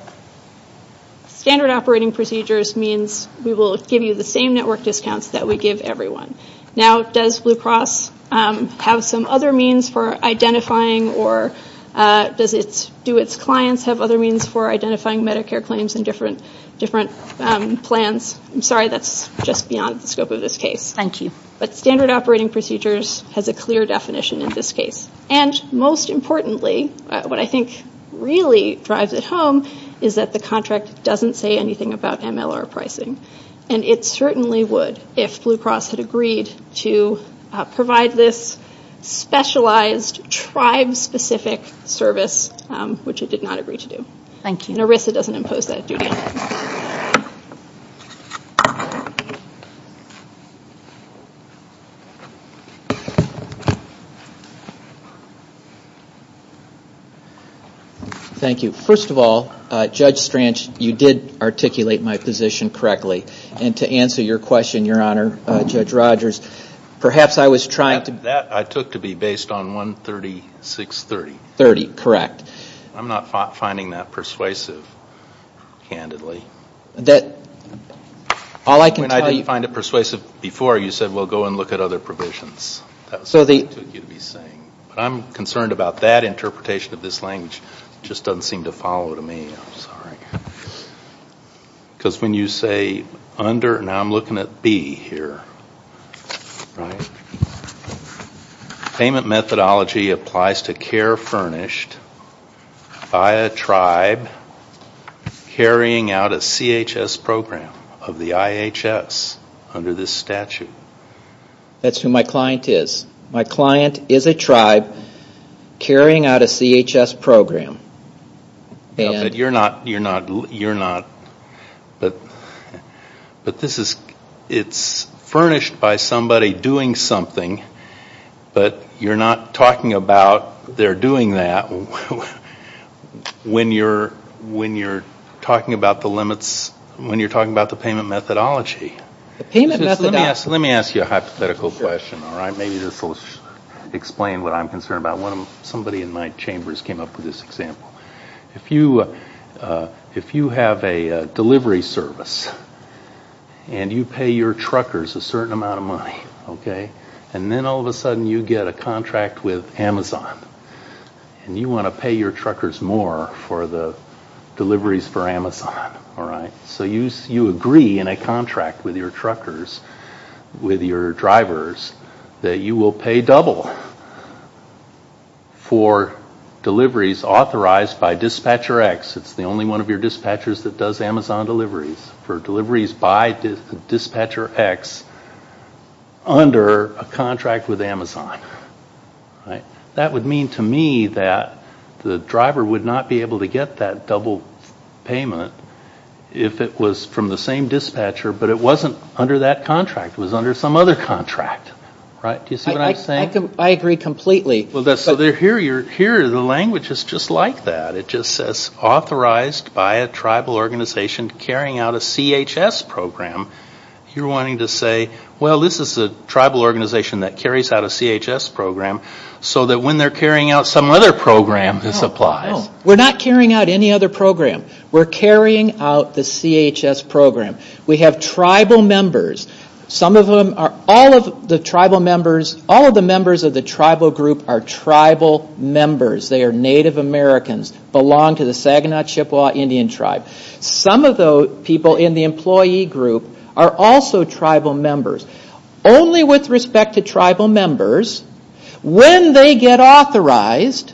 Standard operating procedures means we will give you the same network discounts that we give everyone. Now, does Blue Cross have some other means for identifying or do its clients have other means for identifying Medicare claims in different plans? I'm sorry, that's just beyond the scope of this case. Thank you. But standard operating procedures has a clear definition in this case, and most importantly, what I think really drives it home is that the contract doesn't say anything about MLR pricing, and it certainly would if Blue Cross had agreed to provide this specialized tribe-specific service, which it did not agree to do. Thank you. And ERISA doesn't impose that duty. Thank you. First of all, Judge Strange, you did articulate my position correctly, and to answer your question, Your Honor, Judge Rogers, perhaps I was trying to... That I took to be based on 136.30. 30, correct. I'm not finding that persuasive, candidly. All I can tell you... I didn't find it persuasive before. You said, well, go and look at other provisions. That's what you'd be saying. I'm concerned about that interpretation of this language. It just doesn't seem to follow to me. I'm sorry. Because when you say under, and I'm looking at B here, payment methodology applies to care furnished by a tribe carrying out a CHS program of the IHS under this statute. That's who my client is. My client is a tribe carrying out a CHS program. But you're not... It's furnished by somebody doing something, but you're not talking about they're doing that when you're talking about the limits, when you're talking about the payment methodology. Let me ask you a hypothetical question. Maybe this will explain what I'm concerned about. Somebody in my chambers came up with this example. If you have a delivery service and you pay your truckers a certain amount of money, and then all of a sudden you get a contract with Amazon and you want to pay your truckers more for the deliveries for Amazon. You agree in a contract with your truckers, with your drivers, that you will pay double for deliveries authorized by Dispatcher X. It's the only one of your dispatchers that does Amazon deliveries, for deliveries by Dispatcher X under a contract with Amazon. That would mean to me that the driver would not be able to get that double payment if it was from the same dispatcher, but it wasn't under that contract. It was under some other contract. Do you see what I'm saying? I agree completely. Here the language is just like that. It just says authorized by a tribal organization carrying out a CHS program. You're wanting to say, well, this is a tribal organization that carries out a CHS program so that when they're carrying out some other program, this applies. We're not carrying out any other program. We're carrying out the CHS program. We have tribal members. Some of them are all of the tribal members. All of the members of the tribal group are tribal members. They are Native Americans, belong to the Saginaw Chippewa Indian tribe. Some of the people in the employee group are also tribal members. Only with respect to tribal members, when they get authorized,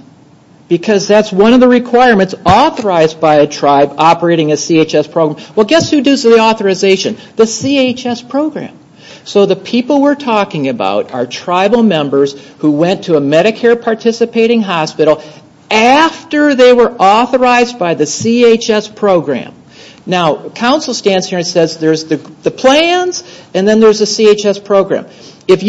because that's one of the requirements, authorized by a tribe operating a CHS program. Well, guess who does the authorization? The CHS program. So the people we're talking about are tribal members who went to a Medicare participating hospital after they were authorized by the CHS program. Now, council stands here and says there's the plans and then there's the CHS program. If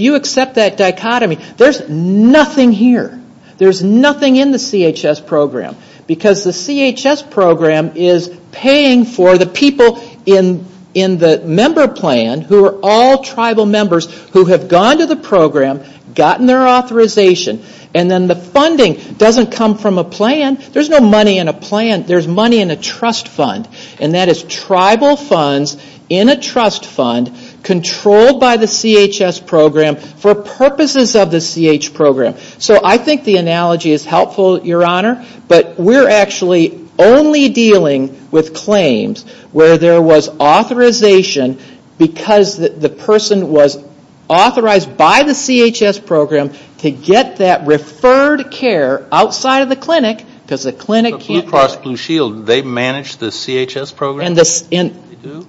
you accept that dichotomy, there's nothing here. There's nothing in the CHS program because the CHS program is paying for the people in the member plan who are all tribal members who have gone to the program, gotten their authorization, and then the funding doesn't come from a plan. There's no money in a plan. There's money in a trust fund, and that is tribal funds in a trust fund, controlled by the CHS program for purposes of the CH program. So I think the analogy is helpful, Your Honor, but we're actually only dealing with claims where there was authorization because the person was authorized by the CHS program to get that referred care outside of the clinic because the clinic can't. So Blue Cross Blue Shield, they manage the CHS program?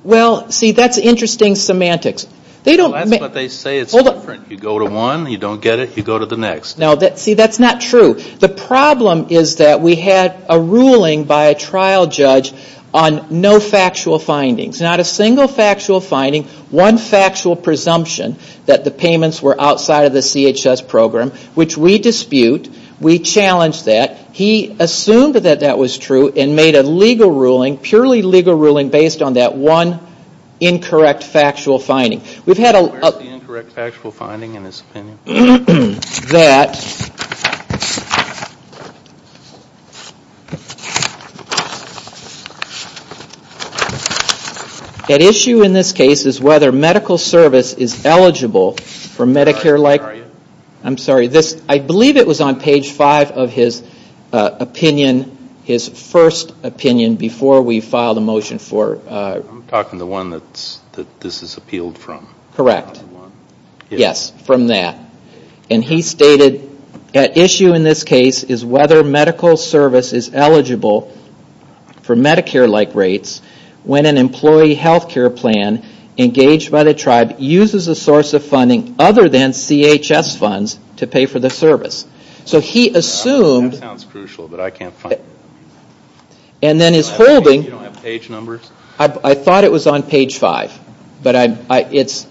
Well, see, that's interesting semantics. I thought they say it's different. You go to one, you don't get it, you go to the next. No, see, that's not true. The problem is that we had a ruling by a trial judge on no factual findings, not a single factual finding, one factual presumption that the payments were outside of the CHS program, which we dispute. We challenge that. He assumed that that was true and made a legal ruling, purely legal ruling based on that one incorrect factual finding. What's the incorrect factual finding in his opinion? That issue in this case is whether medical service is eligible for Medicare-like- I'm sorry. I'm sorry. I believe it was on page five of his opinion, his first opinion, before we filed a motion for- I'm talking the one that this is appealed from. Correct. Yes, from that. And he stated that issue in this case is whether medical service is eligible for Medicare-like rates when an employee health care plan engaged by the tribe uses a source of funding other than CHS funds to pay for the service. So he assumed- That sounds crucial, but I can't find it. And then he's proving- You don't have page numbers? I thought it was on page five, but it's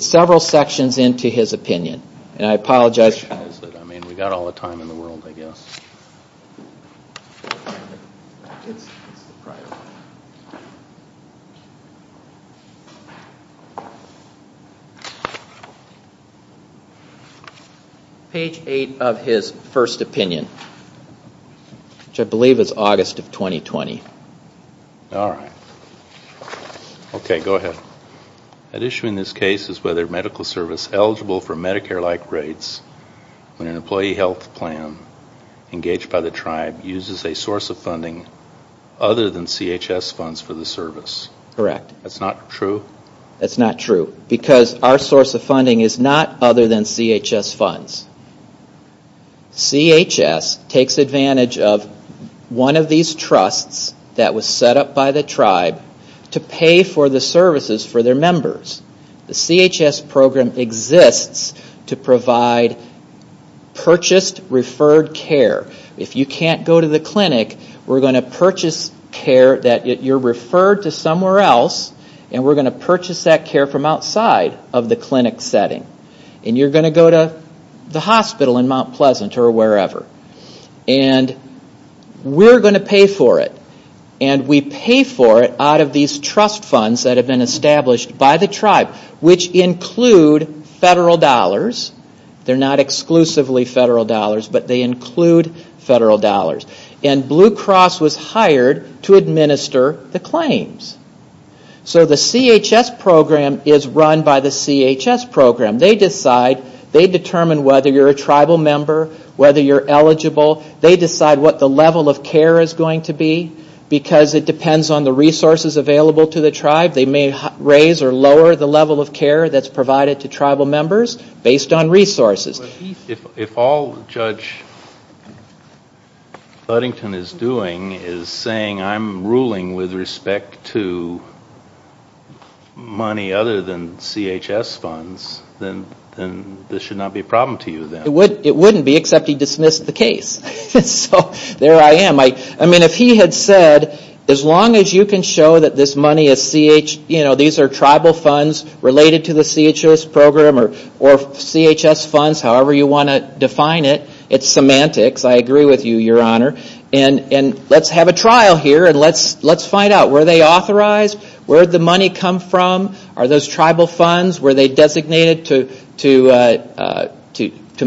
several sections into his opinion. And I apologize- I mean, we've got all the time in the world, I guess. Page eight of his first opinion, which I believe is August of 2020. All right. Okay, go ahead. Issue in this case is whether medical service is eligible for Medicare-like rates when an employee health plan engaged by the tribe uses a source of funding other than CHS funds for the service. Correct. That's not true? That's not true, because our source of funding is not other than CHS funds. CHS takes advantage of one of these trusts that was set up by the tribe to pay for the services for their members. The CHS program exists to provide purchased referred care. If you can't go to the clinic, we're going to purchase care that you're referred to somewhere else, and we're going to purchase that care from outside of the clinic setting. And you're going to go to the hospital in Mount Pleasant or wherever. And we're going to pay for it, and we pay for it out of these trust funds that have been established by the tribe, which include federal dollars. They're not exclusively federal dollars, but they include federal dollars. And Blue Cross was hired to administer the claims. So the CHS program is run by the CHS program. They decide. They determine whether you're a tribal member, whether you're eligible. They decide what the level of care is going to be, because it depends on the resources available to the tribe. They may raise or lower the level of care that's provided to tribal members based on resources. If all Judge Ludington is doing is saying, I'm ruling with respect to money other than CHS funds, then this should not be a problem to you then. It wouldn't be, except he dismissed the case. So there I am. I mean, if he had said, as long as you can show that this money is CHS, these are tribal funds related to the CHS program or CHS funds, however you want to define it. It's semantics. I agree with you, Your Honor. And let's have a trial here, and let's find out. Were they authorized? Where did the money come from? Are those tribal funds? Were they designated to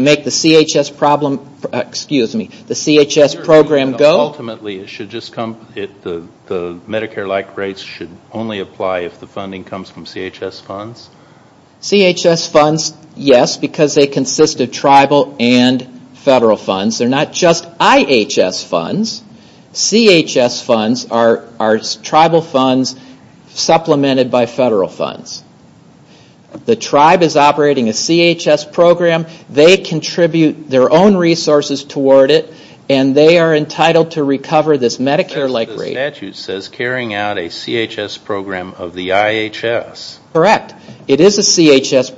make the CHS program go? Ultimately, the Medicare-like rates should only apply if the funding comes from CHS funds? CHS funds, yes, because they consist of tribal and federal funds. They're not just IHS funds. CHS funds are tribal funds supplemented by federal funds. The tribe is operating a CHS program. They contribute their own resources toward it, and they are entitled to recover this Medicare-like rate. The statute says carrying out a CHS program of the IHS. Correct. It is a CHS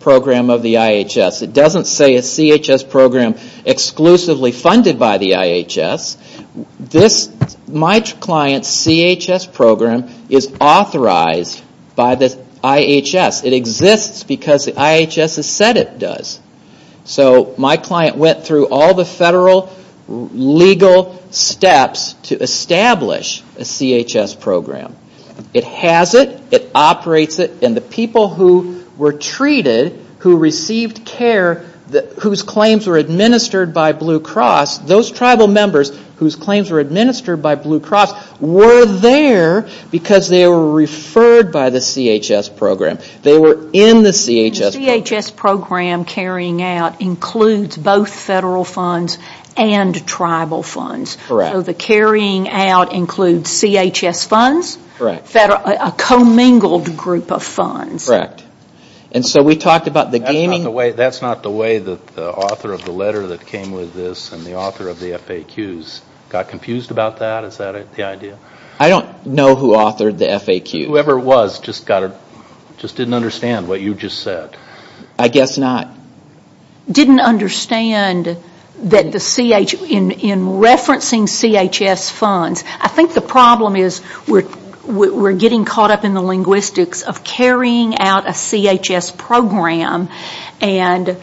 program of the IHS. It doesn't say a CHS program exclusively funded by the IHS. My client's CHS program is authorized by the IHS. It exists because the IHS has said it does. So my client went through all the federal legal steps to establish a CHS program. It has it. It operates it. And the people who were treated, who received care, whose claims were administered by Blue Cross, those tribal members whose claims were administered by Blue Cross were there because they were referred by the CHS program. They were in the CHS program. The CHS program carrying out includes both federal funds and tribal funds. Correct. So the carrying out includes CHS funds? Correct. A commingled group of funds. Correct. And so we talked about the gaming. That's not the way the author of the letter that came with this and the author of the FAQs got confused about that. Is that the idea? I don't know who authored the FAQ. Whoever it was just didn't understand what you just said. I guess not. Didn't understand that in referencing CHS funds, I think the problem is we're getting caught up in the linguistics of carrying out a CHS program and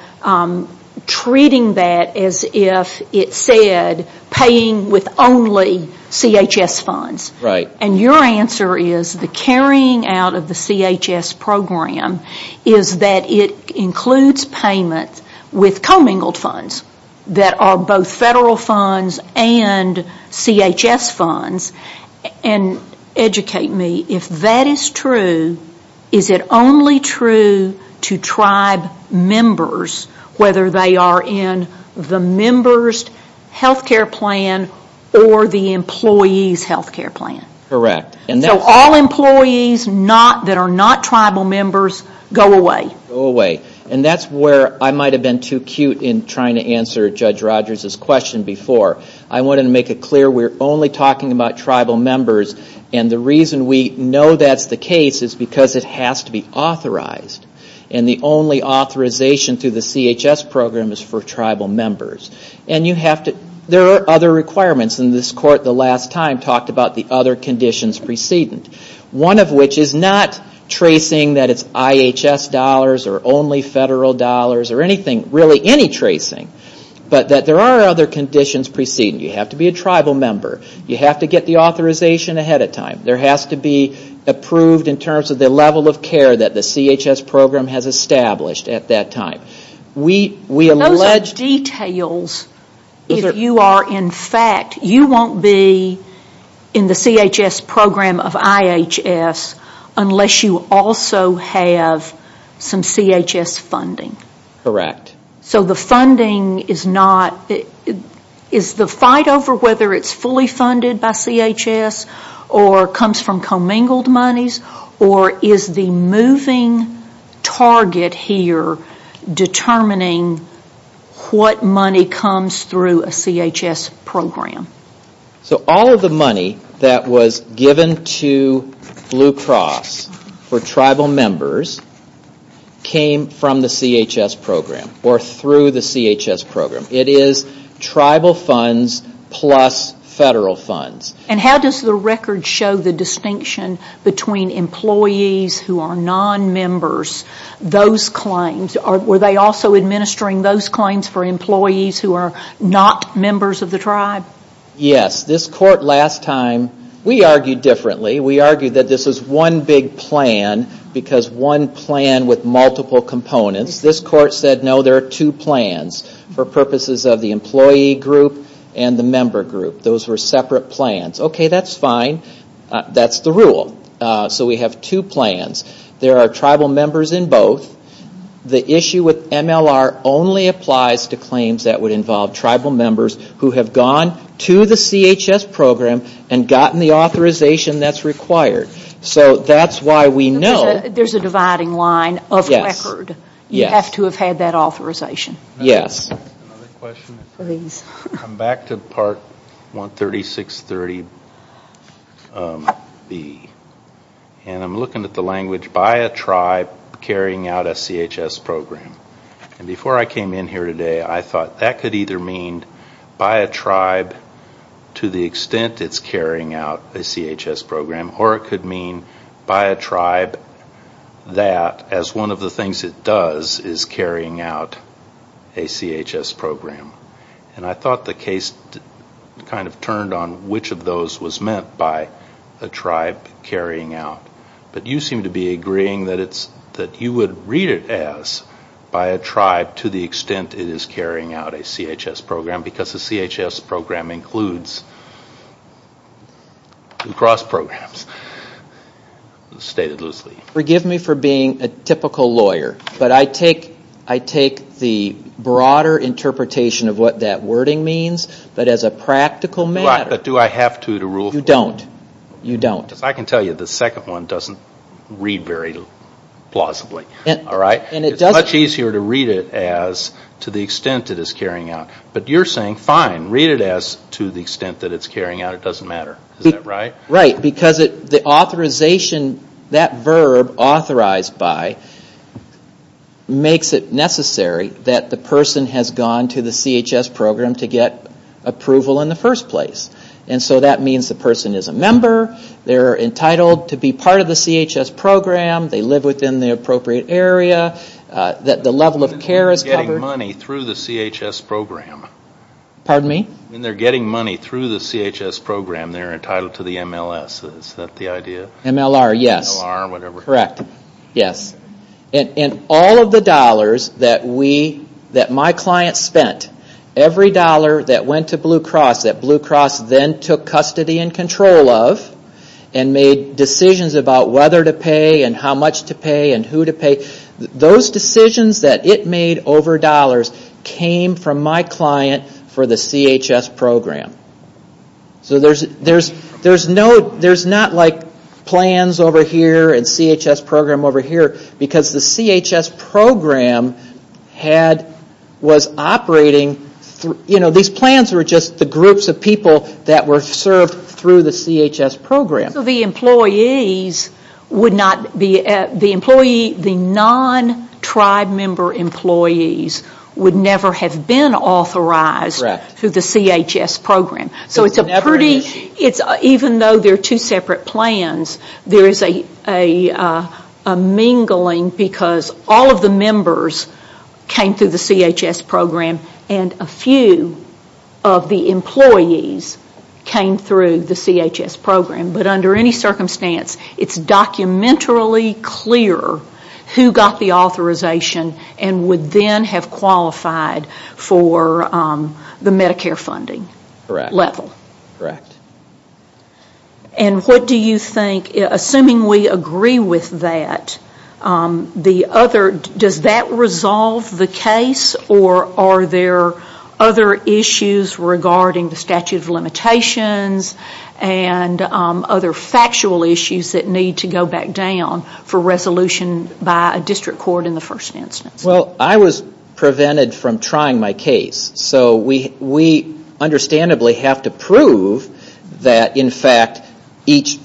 treating that as if it said paying with only CHS funds. Right. And your answer is the carrying out of the CHS program is that it includes payments with commingled funds that are both federal funds and CHS funds. And educate me, if that is true, is it only true to tribe members, whether they are in the member's health care plan or the employee's health care plan? Correct. So all employees that are not tribal members go away. Go away. And that's where I might have been too cute in trying to answer Judge Rogers' question before. I wanted to make it clear we're only talking about tribal members, and the reason we know that's the case is because it has to be authorized. And the only authorization through the CHS program is for tribal members. And you have to, there are other requirements, and this court the last time talked about the other conditions precedent. One of which is not tracing that it's IHS dollars or only federal dollars or anything, really any tracing, but that there are other conditions precedent. You have to be a tribal member. You have to get the authorization ahead of time. There has to be approved in terms of the level of care that the CHS program has established at that time. Those details, if you are in fact, you won't be in the CHS program of IHS unless you also have some CHS funding. Correct. So the funding is not, is the fight over whether it's fully funded by CHS or comes from commingled monies, or is the moving target here determining what money comes through a CHS program? So all of the money that was given to Blue Cross for tribal members came from the CHS program or through the CHS program. It is tribal funds plus federal funds. And how does the record show the distinction between employees who are non-members, those claims, or were they also administering those claims for employees who are not members of the tribe? Yes. This court last time, we argued differently. We argued that this is one big plan because one plan with multiple components. This court said, no, there are two plans for purposes of the employee group and the member group. Those were separate plans. Okay, that's fine. That's the rule. So we have two plans. There are tribal members in both. The issue with MLR only applies to claims that would involve tribal members who have gone to the CHS program and gotten the authorization that's required. So that's why we know. There's a dividing line of record. Yes. You have to have had that authorization. Yes. Other questions? Please. I'm back to Part 136.30b. And I'm looking at the language, by a tribe carrying out a CHS program. And before I came in here today, I thought that could either mean by a tribe to the extent it's carrying out a CHS program, or it could mean by a tribe that as one of the things it does is carrying out a CHS program. And I thought the case kind of turned on which of those was meant by a tribe carrying out. But you seem to be agreeing that you would read it as by a tribe to the extent it is carrying out a CHS program, because the CHS program includes two cross programs. Forgive me for being a typical lawyer. But I take the broader interpretation of what that wording means, but as a practical matter. Right. But do I have to to rule? You don't. You don't. I can tell you the second one doesn't read very plausibly. All right? And it doesn't. It's much easier to read it as to the extent it is carrying out. But you're saying, fine, read it as to the extent that it's carrying out. It doesn't matter. Is that right? Right. Because the authorization, that verb, authorized by, makes it necessary that the person has gone to the CHS program to get approval in the first place. And so that means the person is a member, they're entitled to be part of the CHS program, they live within the appropriate area, that the level of care is covered. Pardon me? MLS. Is that the idea? MLR, yes. MLR, whatever. Correct. Yes. And all of the dollars that we, that my client spent, every dollar that went to Blue Cross that Blue Cross then took custody and control of and made decisions about whether to pay and how much to pay and who to pay, those decisions that it made over dollars came from my client for the CHS program. So there's no, there's not like plans over here and CHS program over here because the CHS program had, was operating, you know, these plans were just the groups of people that were served through the CHS program. The employees would not be, the employee, the non-tribe member employees would never have been authorized through the CHS program. So it's a pretty, even though they're two separate plans, there's a mingling because all of the members came through the CHS program and a few of the employees came through the CHS program. But under any circumstance, it's documentarily clear who got the authorization and would then have qualified for the Medicare funding level. Correct. And what do you think, assuming we agree with that, the other, does that resolve the case or are there other issues regarding the statute of limitations and other factual issues that need to go back down for resolution by a district court in the first instance? Well, I was prevented from trying my case. So we understandably have to prove that in fact each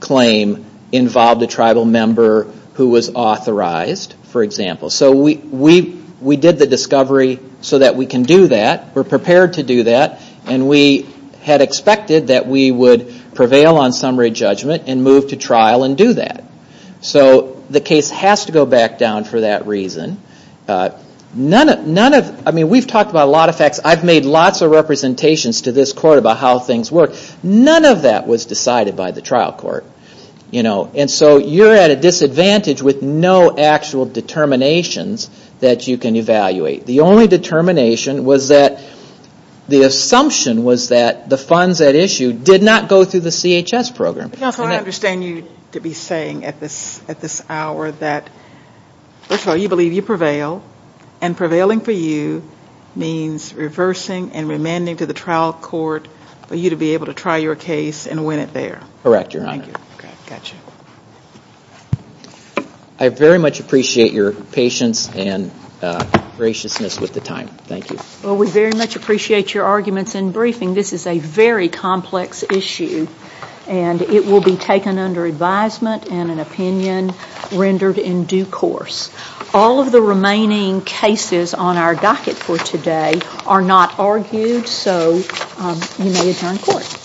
claim involved a tribal member who was authorized, for example. So we did the discovery so that we can do that. We're prepared to do that and we had expected that we would prevail on summary judgment and move to trial and do that. So the case has to go back down for that reason. We've talked about a lot of facts. I've made lots of representations to this court about how things work. None of that was decided by the trial court. And so you're at a disadvantage with no actual determinations that you can evaluate. The only determination was that the assumption was that the funds at issue did not go through the CHS program. Counsel, I understand you to be saying at this hour that you believe you prevail and prevailing for you means reversing and remanding to the trial court for you to be able to try your case and win it there. Correct, Your Honor. Thank you. I very much appreciate your patience and graciousness with the time. Thank you. Well, we very much appreciate your arguments and briefing. This is a very complex issue and it will be taken under advisement and an opinion rendered in due course. All of the remaining cases on our docket for today are not argued, so you may adjourn court.